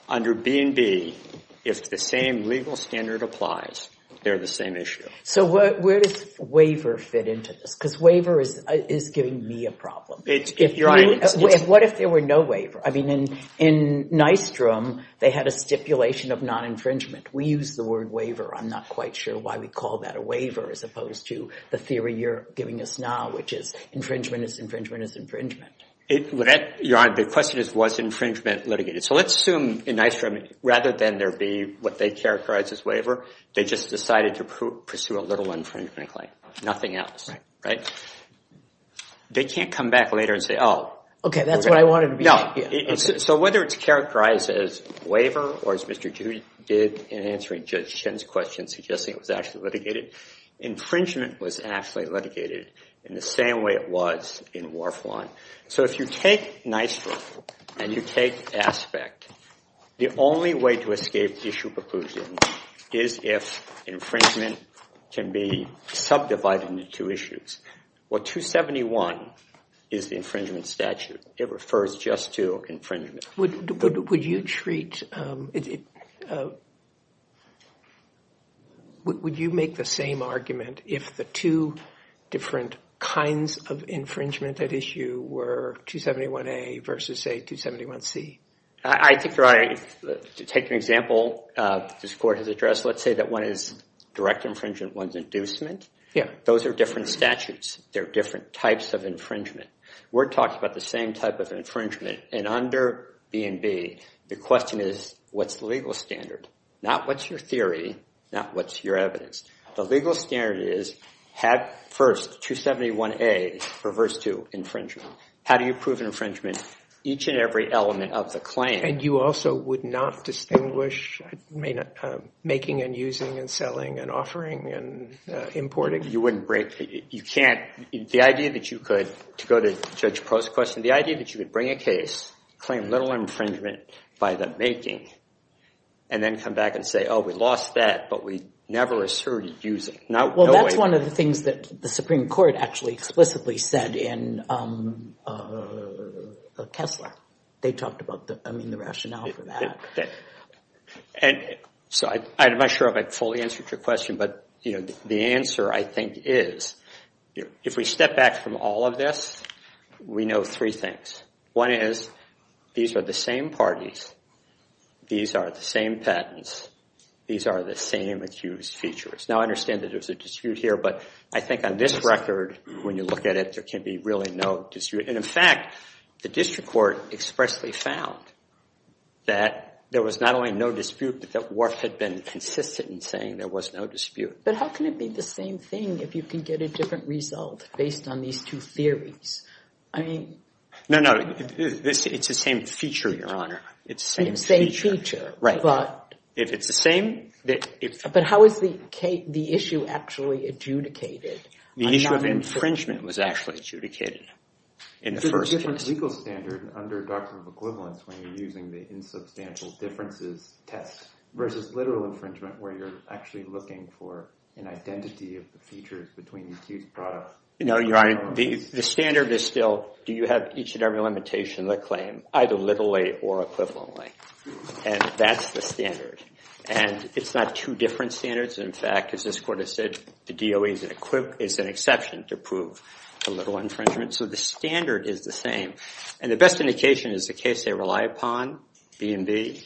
Under B&B, if the same legal standard applies, they're the same issue. So where does waiver fit into this? Because waiver is giving me a problem. And what if there were no waiver? I mean, in Nystrom, they had a stipulation of non-infringement. We use the word waiver. I'm not quite sure why we call that a waiver as opposed to the theory you're giving us now, which is infringement is infringement is infringement. The question is, was infringement litigated? So let's assume, in Nystrom, rather than there be what they characterize as waiver, they just decided to pursue a literal infringement claim. Nothing else, right? They can't come back later and say, oh, OK. That's what I wanted to be. No. So whether it's characterized as waiver, or as Mr. Judy did in answering Judge Shen's question, suggesting it was actually litigated, infringement was actually litigated in the same way it was in WARF 1. So if you take Nystrom, and you take ASPECT, the only way to escape issue preclusion is if infringement can be subdivided into two issues. Well, 271 is the infringement statute. It refers just to infringement. Would you make the same argument if the two different kinds of infringement that issue were 271A versus, say, 271C? I think you're right. To take an example this court has addressed, let's say that one is direct infringement, one's inducement. Yeah. Those are different statutes. There are different types of infringement. We're talking about the same type of infringement. And under E&B, the question is, what's the legal standard? Not what's your theory, not what's your evidence. The legal standard is, first, 271A refers to infringement. How do you prove infringement? Each and every element of the claim. And you also would not distinguish making, and using, and selling, and offering, and importing? You wouldn't break it. You can't. The idea that you could, to go to Judge Post's question, the idea that you would bring a case, claim little infringement by the making, and then come back and say, oh, we lost that, but we never asserted using. Well, that's one of the things that the Supreme Court actually explicitly said in Kessler. They talked about the rationale for that. I'm not sure if I fully answered your question. But the answer, I think, is, if we step back from all of this, we know three things. One is, these are the same parties. These are the same patents. These are the same accused features. Now, I understand that there's a dispute here. But I think on this record, when you look at it, there can be really no dispute. And in fact, the district court expressly found that there was not only no dispute, but that Wharf had been consistent in saying there was no dispute. But how can it be the same thing if you can get a different result based on these two theories? I mean, no, no. It's the same feature, Your Honor. It's the same feature. It's the same feature. Right. If it's the same, it's true. But how is the issue actually adjudicated? The issue of infringement was actually adjudicated in the first case. There's a different legal standard under a doctrine of equivalence when you're using the insubstantial differences test versus literal infringement, where you're actually looking for an identity of the features between these two products. No, Your Honor. The standard is still, do you have each and every limitation of the claim, either literally or equivalently? And that's the standard. And it's not two different standards. In fact, as this court has said, the DOE is an exception to prove literal infringement. So the standard is the same. And the best indication is the case they rely upon, B&B.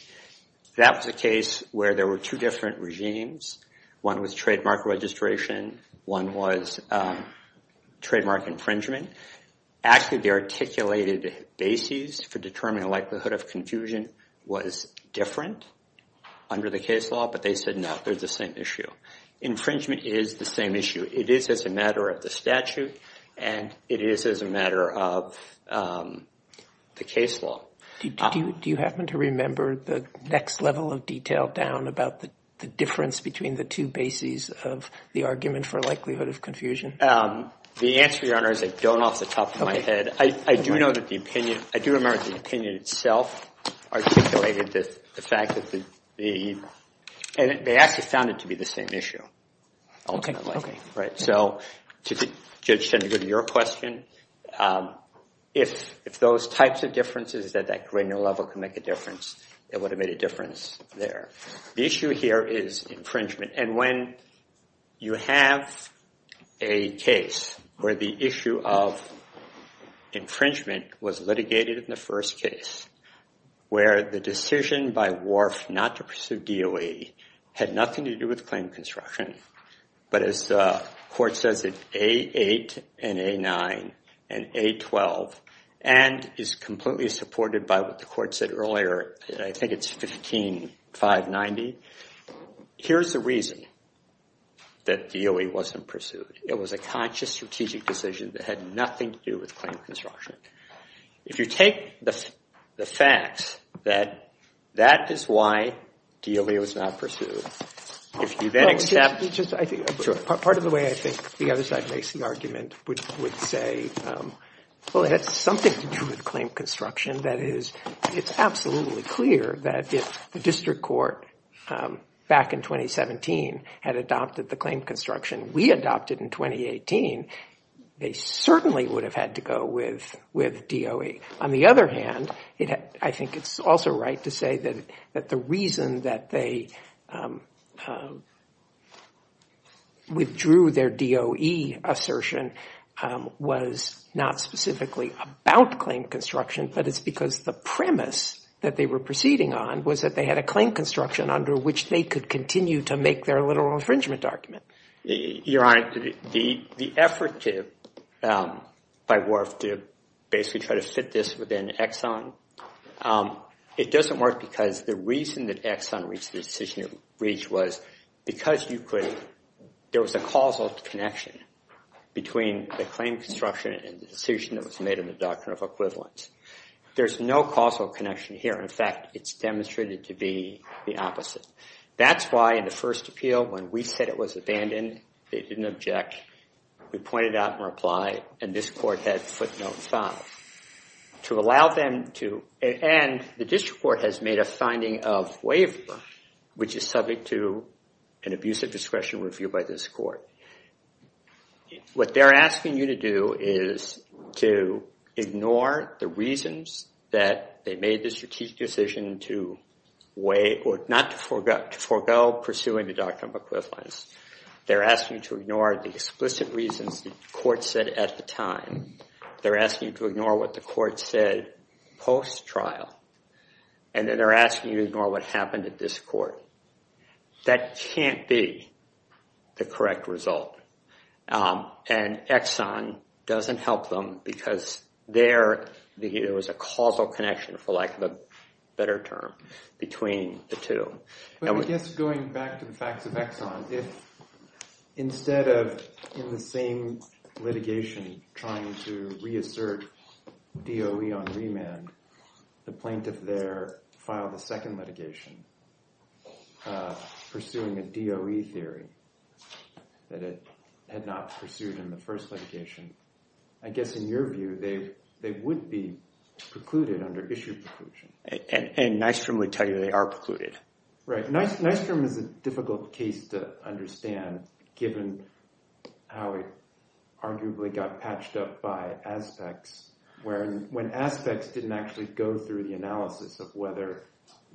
That was a case where there were two different regimes. One was trademark registration. One was trademark infringement. Actually, they articulated bases to determine the likelihood of confusion was different under the case law. But they said, no, there's the same issue. Infringement is the same issue. It is as a matter of the statute. And it is as a matter of the case law. Do you happen to remember the next level of detail down about the difference between the two bases of the argument for likelihood of confusion? The answer, Your Honor, is I don't off the top of my head. But I do remember that the opinion itself articulated the fact that the B&B, and they actually found it to be the same issue, ultimately. So to get to your question, if those types of differences at that granular level can make a difference, it would have made a difference there. The issue here is infringement. And when you have a case where the issue of infringement was litigated in the first case, where the decision by Wharf not to pursue DOE had nothing to do with claim construction, but as the court says, it's A8 and A9 and A12, and is completely supported by what the court said earlier. I think it's 15-590. Here's the reason that DOE wasn't pursued. It was a conscious strategic decision that had nothing to do with claim construction. If you take the fact that that is why DOE was not pursued, if you then accept it's just a part of the way I think the other side makes the argument, which would say, well, it had something to do with claim construction. That is, it's absolutely clear that if the district court back in 2017 had adopted the claim construction we adopted in 2018, they certainly would have had to go with DOE. On the other hand, I think it's also right to say that the reason that they withdrew their DOE assertion was not specifically about claim construction, but it's because the premise that they were proceeding on was that they had a claim construction under which they could continue to make their literal infringement argument. Your Honor, the effort by Wharfe to basically try to fit this within Exxon, it doesn't work because the reason that Exxon reached the decision it reached was because there was a causal connection between the claim construction and the decision that was made in the Doctrine of Equivalence. There's no causal connection here. In fact, it's demonstrated to be the opposite. That's why in the first appeal, when we said it was abandoned, they didn't object. We pointed out in reply, and this court had footnote five, to allow them to. And the district court has made a finding of waiver, which is subject to an abusive discretion review by this court. What they're asking you to do is to ignore the reasons that they made the strategic decision not to forego pursuing the Doctrine of Equivalence. They're asking to ignore the explicit reasons the court said at the time. They're asking to ignore what the court said post-trial. And then they're asking you to ignore what happened at this court. That can't be the correct result. And Exxon doesn't help them because there was a causal connection, for lack of a better term, between the two. But I guess going back to the fact that Exxon, if instead of in the same litigation trying to reassert DOE on remand, the plaintiff there filed a second litigation pursuing the DOE theory that it had not pursued in the first litigation. I guess in your view, they would be precluded under issued discretion. And Nystrom would tell you they are precluded. Right. Nystrom is a difficult case to understand, given how it arguably got patched up by Aztec, when Aztec didn't actually go through the analysis of whether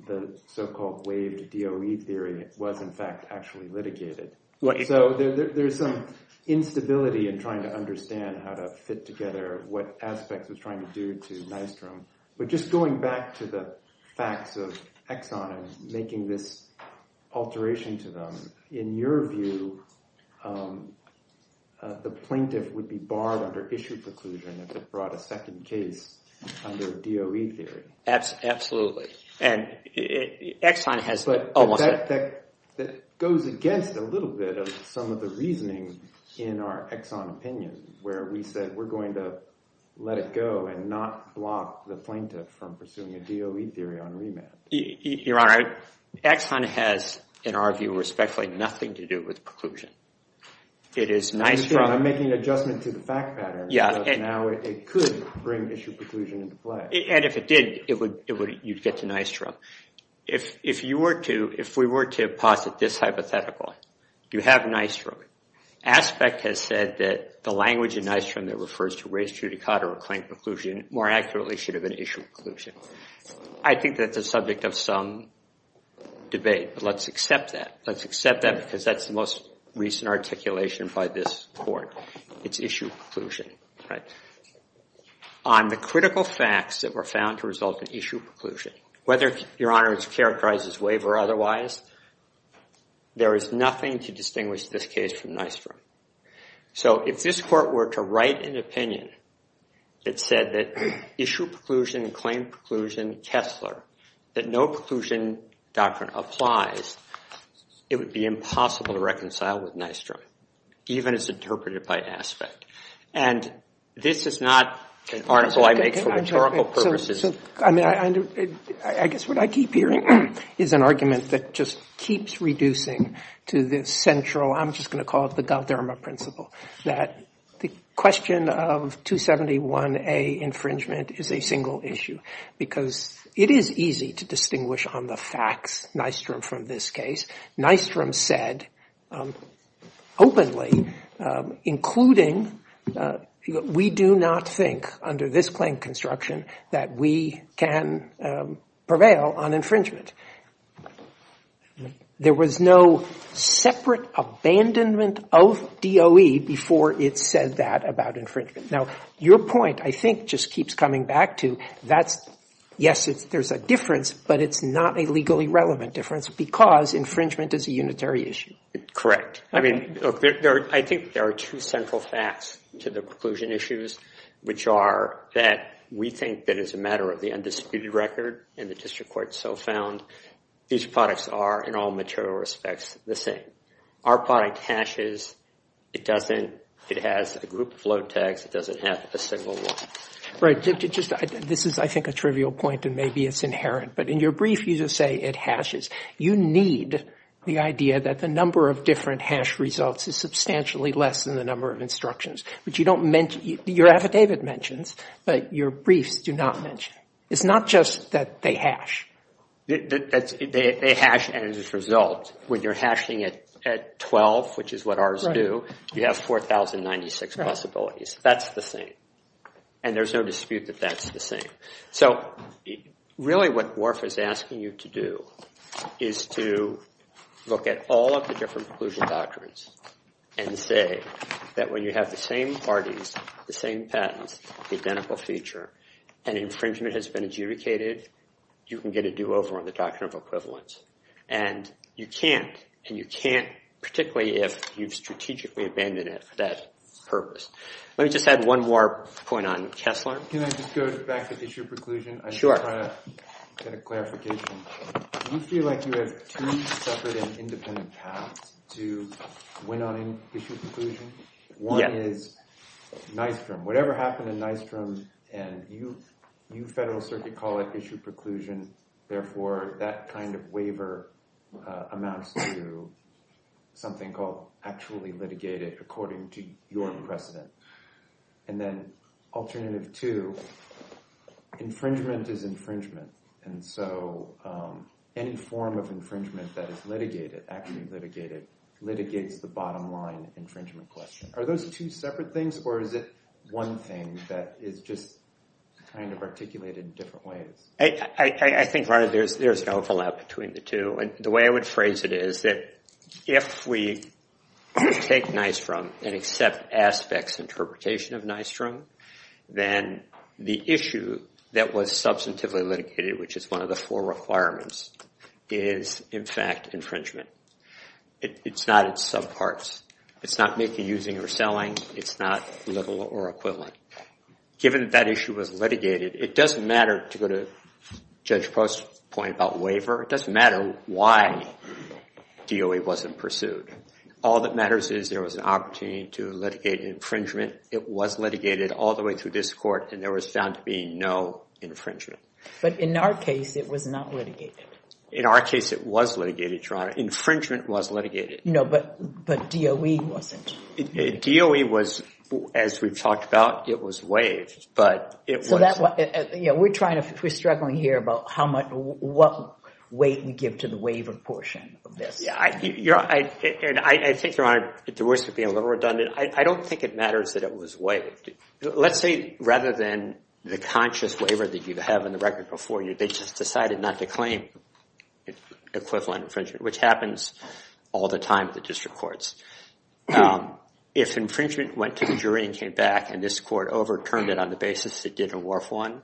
the so-called waived DOE theory was in fact actually litigated. So there's some instability in trying to understand how to fit together what Aztec was trying to do to Nystrom. But just going back to the facts of Exxon and making this alteration to them, in your view, the plaintiff would be barred under issued preclusion if it brought a second case under DOE theory. Absolutely. And Exxon has almost that. But that goes against a little bit of some of the reasoning in our Exxon opinion, where we said we're going to let it go and not block the plaintiff from pursuing a DOE theory on remand. Your Honor, Exxon has, in our view, respectfully, nothing to do with preclusion. It is Nystrom. I'm making adjustments to the fact pattern, because now it could bring issued preclusion into play. And if it did, you'd get to Nystrom. If we were to posit this hypothetical, do you have Nystrom? Aspect has said that the language in Nystrom that refers to race judicata or claimed preclusion more accurately should have been issued preclusion. I think that's the subject of some debate. But let's accept that. Let's accept that, because that's the most recent articulation by this court. It's issued preclusion. On the critical facts that were found to result in issued preclusion, whether, Your Honor, it's characterized as waiver or otherwise, there is nothing to distinguish this case from Nystrom. So if this court were to write an opinion that said that issued preclusion, claimed preclusion, Kessler, that no preclusion doctrine applies, it would be impossible to reconcile with Nystrom, even as interpreted by Aspect. And this is not an article I make for rhetorical purposes. I mean, I guess what I keep hearing is an argument that just keeps reducing to this central, I'm just going to call it the Dalderma principle, that the question of 271A infringement is a single issue, because it is easy to distinguish on the facts Nystrom from this case. Nystrom said openly, including we do not think under this claim construction that we can prevail on infringement. There was no separate abandonment of DOE before it said that about infringement. Now, your point, I think, just keeps coming back to that. Yes, there's a difference, but it's not a legally relevant difference, because infringement is a unitary issue. Correct. I mean, I think there are two central facts to the preclusion issues, which are that we think that it's a matter of the undisputed record, and the district court so found. These products are, in all material respects, the same. Our product hashes. It doesn't. It has a group of float tags. It doesn't have a single one. Right, this is, I think, a trivial point, and maybe it's inherent. But in your brief, you just say it hashes. You need the idea that the number of different hash results is substantially less than the number of instructions, which you don't mention. Your affidavit mentions, but your briefs do not mention. It's not just that they hash. They hash, and as a result, when you're hashing it at 12, which is what ours do, you have 4,096 possibilities. That's the same. And there's no dispute that that's the same. So really what WARF is asking you to do is to look at all of the different preclusion doctrines and say that when you have the same parties, the same patent, the identical feature, and infringement has been adjudicated, you can get a do-over on the doctrine of equivalence. And you can't, and you can't particularly if you've strategically abandoned it for that purpose. Let me just add one more point on Kessler. Can I just go back to issue preclusion? Sure. I just want to get a clarification. Do you feel like you have three separate and independent paths to win on issue preclusion? Yes. One is Nystrom. Whatever happened in Nystrom, and you federal circuit call it issue preclusion. Therefore, that kind of waiver amounts to something called actually litigated according to your precedent. And then alternative two, infringement is infringement. And so any form of infringement that is litigated, actually litigated, litigates the bottom line infringement question. Are those two separate things? Or is it one thing that is just kind of articulated in different ways? I think there's no fallout between the two. And the way I would phrase it is that if we take Nystrom and accept Aspect's interpretation of Nystrom, then the issue that was substantively litigated, which is one of the four requirements, is, in fact, infringement. It's not its subparts. It's not making, using, or selling. It's not little or equivalent. Given that issue was litigated, it doesn't matter to go to Judge Post's point about waiver. It doesn't matter why DOA wasn't pursued. All that matters is there was an opportunity to litigate infringement. It was litigated all the way through this court, and there was found to be no infringement. But in our case, it was not litigated. In our case, it was litigated, Your Honor. Infringement was litigated. No, but DOE wasn't. DOE was, as we've talked about, it was waived. We're struggling here about what weight we give to the waiver portion of this. And I think, Your Honor, the words could be a little redundant. I don't think it matters that it was waived. Let's say rather than the conscious waiver that you have in the record before you, they just decided not to claim equivalent infringement, which happens all the time in the district courts. If infringement went to the jury and came back and this court overturned it on the basis it did in WARF-1,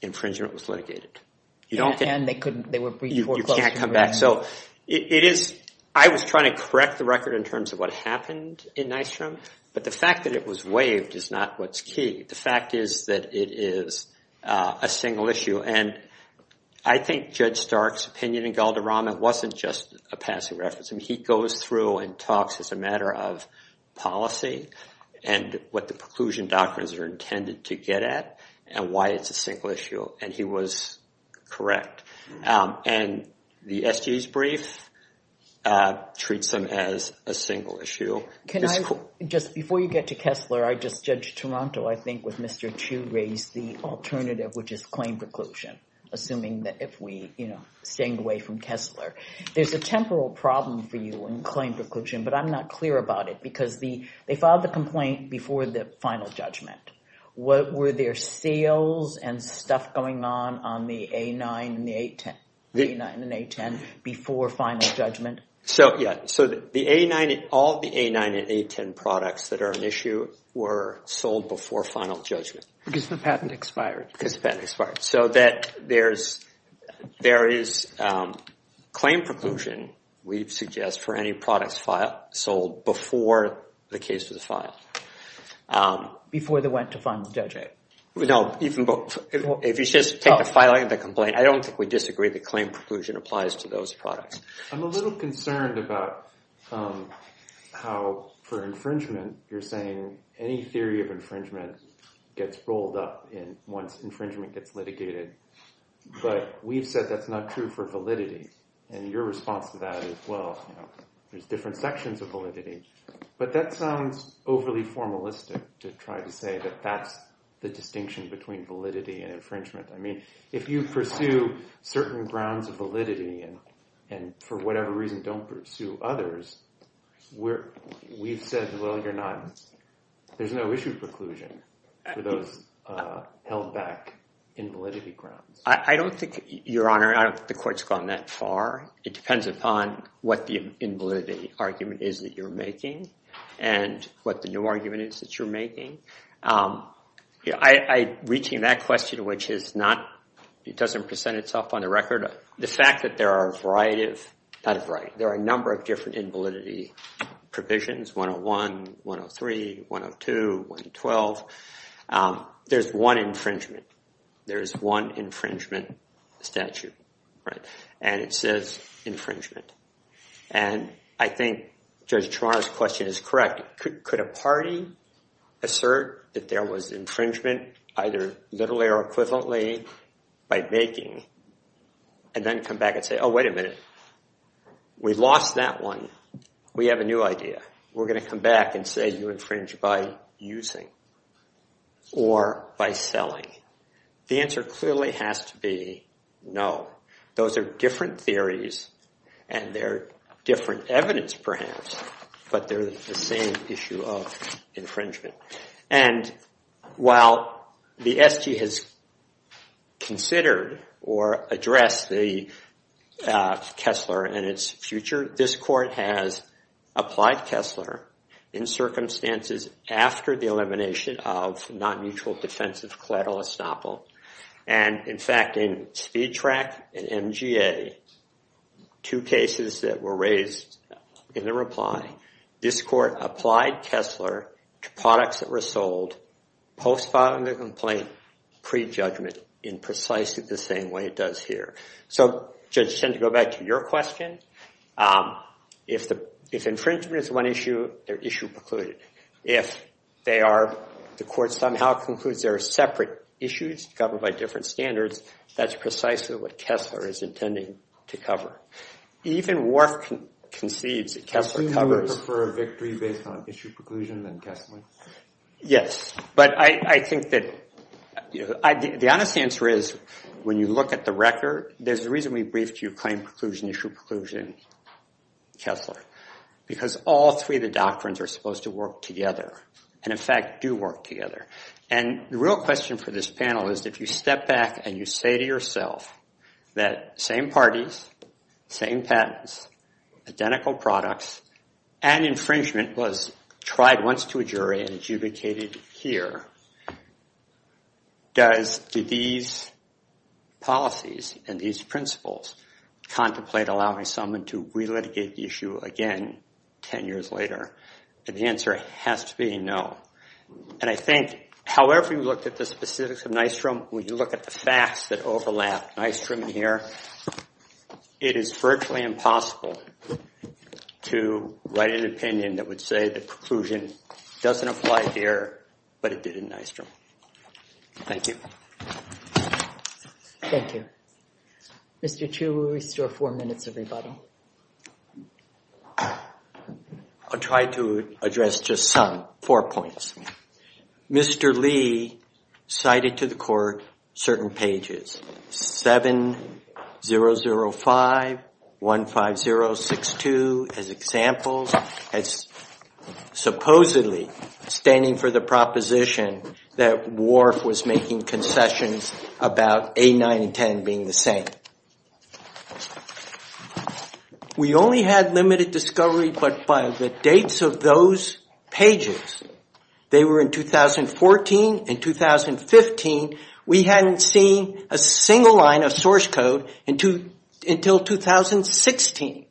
infringement was litigated. And they couldn't. They were briefed before. You can't come back. So I was trying to correct the record in terms of what happened in Nystrom. But the fact that it was waived is not what's key. The fact is that it is a single issue. And I think Judge Stark's opinion in Galdorama wasn't just a passive reference. He goes through and talks as a matter of policy and what the preclusion documents are intended to get at and why it's a single issue. And he was correct. And the SGA's brief treats them as a single issue. Can I just, before you get to Kessler, I just judged Toronto, I think, with Mr. Chiu raised the alternative, which is claim preclusion, assuming that if we staying away from Kessler. There's a temporal problem for you in claim preclusion. But I'm not clear about it. Because they filed the complaint before the final judgment. What were their sales and stuff going on on the A9 and the A10 before final judgment? All the A9 and A10 products that are an issue were sold before final judgment. Because the patent expired. Because the patent expired. So there is claim preclusion, we'd suggest, for any products sold before the case was filed. Before they went to final judgment. No. If you just take the filing of the complaint, I don't think we disagree that claim preclusion applies to those products. I'm a little concerned about how, for infringement, you're saying any theory of infringement gets rolled up once infringement gets litigated. But we've said that's not true for validity. And your response to that is, well, there's different sections of validity. But that sounds overly formalistic to try to say that that's the distinction between validity and infringement. If you pursue certain grounds of validity and for whatever reason don't pursue others, we've said, well, you're not. There's no issue preclusion for those held back in validity grounds. I don't think, Your Honor, the court's gone that far. It depends upon what the invalidity argument is that you're making and what the new argument is that you're making. Reaching that question, which it's not, it doesn't present itself on the record, the fact that there are a variety of, not a variety, there are a number of different invalidity provisions, 101, 103, 102, 112. There's one infringement. There's one infringement statute. Right? And it says infringement. And I think Judge Ciamarra's question is correct. Could a party assert that there was infringement, either literally or equivalently, by making, and then come back and say, oh, wait a minute. We lost that one. We have a new idea. We're going to come back and say you infringe by using or by selling. The answer clearly has to be no. Those are different theories. And they're different evidence, perhaps. But there's the same issue of infringement. And while the SG has considered or addressed the Kessler and its future, this court has applied Kessler in circumstances after the elimination of non-mutual defensive collateral estoppel. And in fact, in C-TRAC and MGA, two cases that were raised in the reply, this court applied Kessler to products that were sold post-filing the complaint, pre-judgment, in precisely the same way it does here. So Judge, just to go back to your question, if infringement is one issue, they're issue precluded. If the court somehow concludes there are separate issues covered by different standards, that's precisely what Kessler is intending to cover. Even work concedes that Kessler covers. So you would prefer a victory based on issue preclusion than Kessler? Yes. But I think that the honest answer is when you look at the record, there's a reason we briefed you claim preclusion, issue preclusion, Kessler. Because all three of the doctrines are supposed to work together. And in fact, do work together. And the real question for this panel is if you step back and you say to yourself that same parties, same patents, identical products, and infringement was tried once to a jury and adjudicated here, do these policies and these principles contemplate allowing someone to re-litigate the issue again 10 years later? And the answer has to be no. And I think however you look at the specifics of Nystrom, when you look at the facts that overlap Nystrom here, it is virtually impossible to write an opinion that would say the preclusion doesn't apply here, but it did in Nystrom. Thank you. Thank you. Mr. Chu, we still have four minutes everybody. I'll try to address just four points. Mr. Lee cited to the court certain pages, 7005, 15062, as examples, as supposedly standing for the proposition that Whorf was making concessions about A9 and 10 being the same. But regardless of those pages, they were in 2014 and 2015, we hadn't seen a single line of source code until 2016.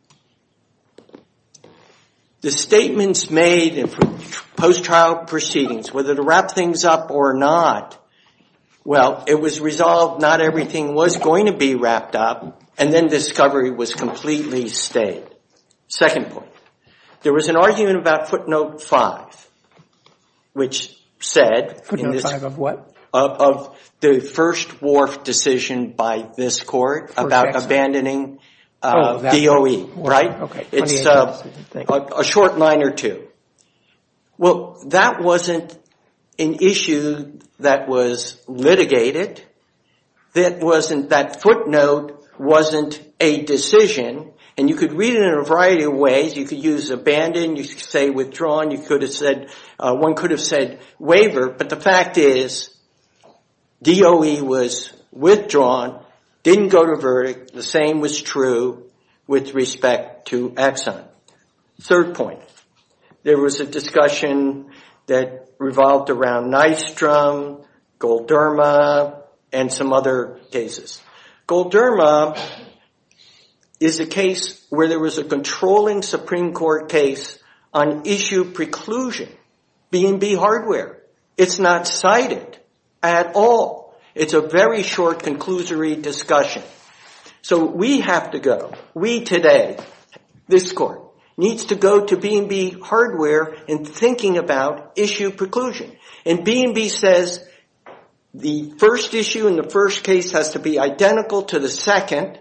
The statements made in post-trial proceedings, whether to wrap things up or not, well, it was resolved not everything was going to be wrapped up, and then discovery was completely stayed. Second point. There was an argument about footnote 5, which said Footnote 5 of what? Of the first Whorf decision by this court about abandoning DOE, right? A short line or two. Well, that wasn't an issue that was litigated. That footnote wasn't a decision. And you could read it in a variety of ways. You could use abandon. You could say withdrawn. One could have said waiver. But the fact is DOE was withdrawn, didn't go to verdict. The same was true with respect to Exxon. Third point. There was a discussion that revolved around Nystrom, Golderma, and some other cases. Golderma is a case where there was a controlling Supreme Court case on issue preclusion, B&B hardware. It's not cited at all. It's a very short conclusory discussion. So we have to go. We today, this court, needs to go to B&B hardware and thinking about issue preclusion. And B&B says the first issue and the first case have to be identical to the second.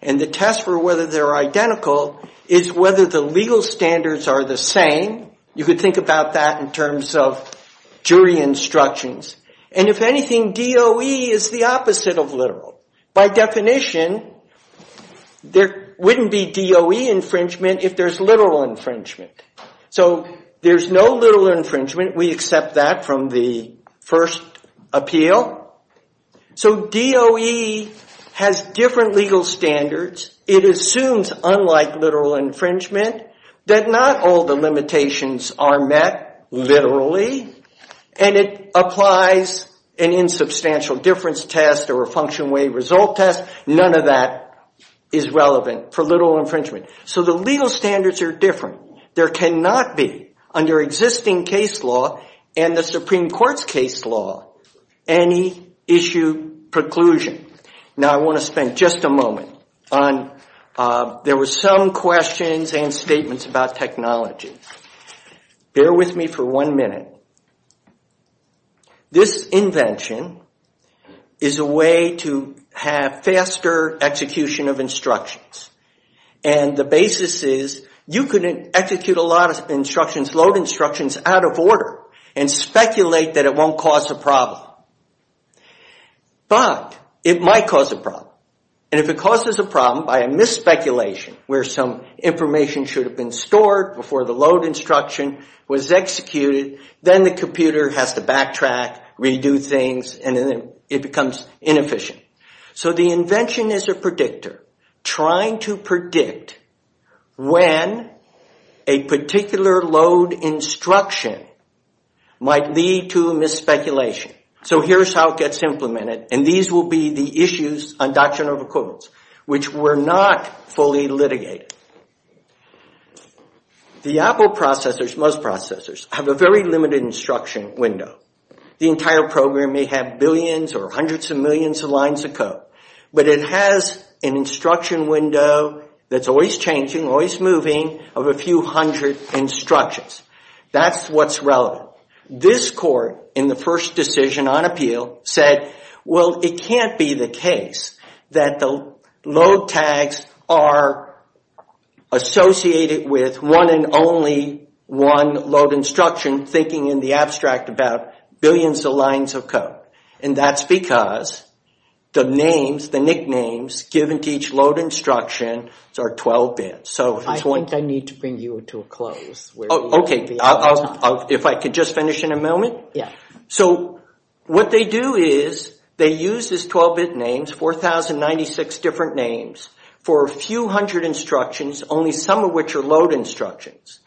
And the test for whether they're identical is whether the legal standards are the same. You could think about that in terms of jury instructions. And if anything, DOE is the opposite of literal. By definition, there wouldn't be DOE infringement if there's literal infringement. So there's no literal infringement. We accept that from the first appeal. So DOE has different legal standards. It assumes, unlike literal infringement, that not all the limitations are met literally. And it applies an insubstantial difference test or a function wave result test. None of that is relevant for literal infringement. So the legal standards are different. There cannot be, under existing case law and the Supreme Court's case law, any issue preclusion. Now, I want to spend just a moment. There were some questions and statements about technology. Bear with me for one minute. This invention is a way to have faster execution of instructions. And the basis is you could execute a lot of instructions, load instructions, out of order, and speculate that it won't cause a problem. But it might cause a problem. And if it causes a problem by a misspeculation where some information should have been stored before the load instruction was executed, then the computer has to backtrack, redo things, and then it becomes inefficient. So the invention is a predictor trying to predict when a particular load instruction might lead to a misspeculation. So here's how it gets implemented. And these will be the issues on doctrinal records which were not fully litigated. The Apple processors, most processors, have a very limited instruction window. The entire program may have billions or hundreds of millions of lines of code. But it has an instruction window that's always changing, always moving, of a few hundred instructions. That's what's relevant. This court, in the first decision on appeal, said, well, it can't be the case that the load tags are associated with one and only one load instruction, thinking in the abstract about billions of lines of code. And that's because the names, the nicknames, given to each load instruction are 12-bit. So it's one- I think I need to bring you to a close. Okay, if I can just finish in a moment? Yeah. So what they do is they use these 12-bit names, 4,096 different names, for a few hundred instructions, only some of which are load instructions.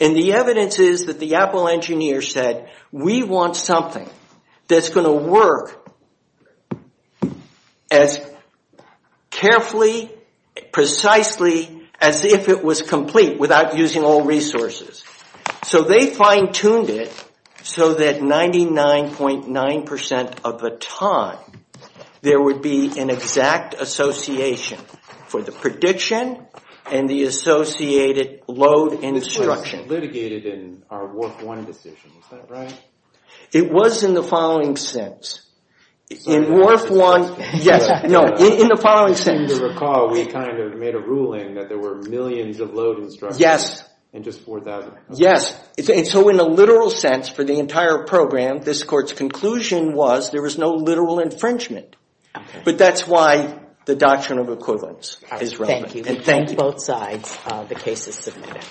And the evidence is that the Apple engineers said, we want something that's gonna work as carefully, precisely, as if it was complete, without using all resources. So they fine-tuned it so that 99.9% of the time, there would be an exact association for the prediction and the associated load instruction. Litigated in our work one decision, is that right? It was in the following sense. In worth one, yes. No, in the following sense. If you recall, we kind of made a ruling that there were millions of load instructions. Yes. And just 4,000. Yes. So in a literal sense, for the entire program, this court's conclusion was, there was no literal infringement. But that's why the doctrine of equivalence is relevant. Thank you. And thank both sides, the cases submitted.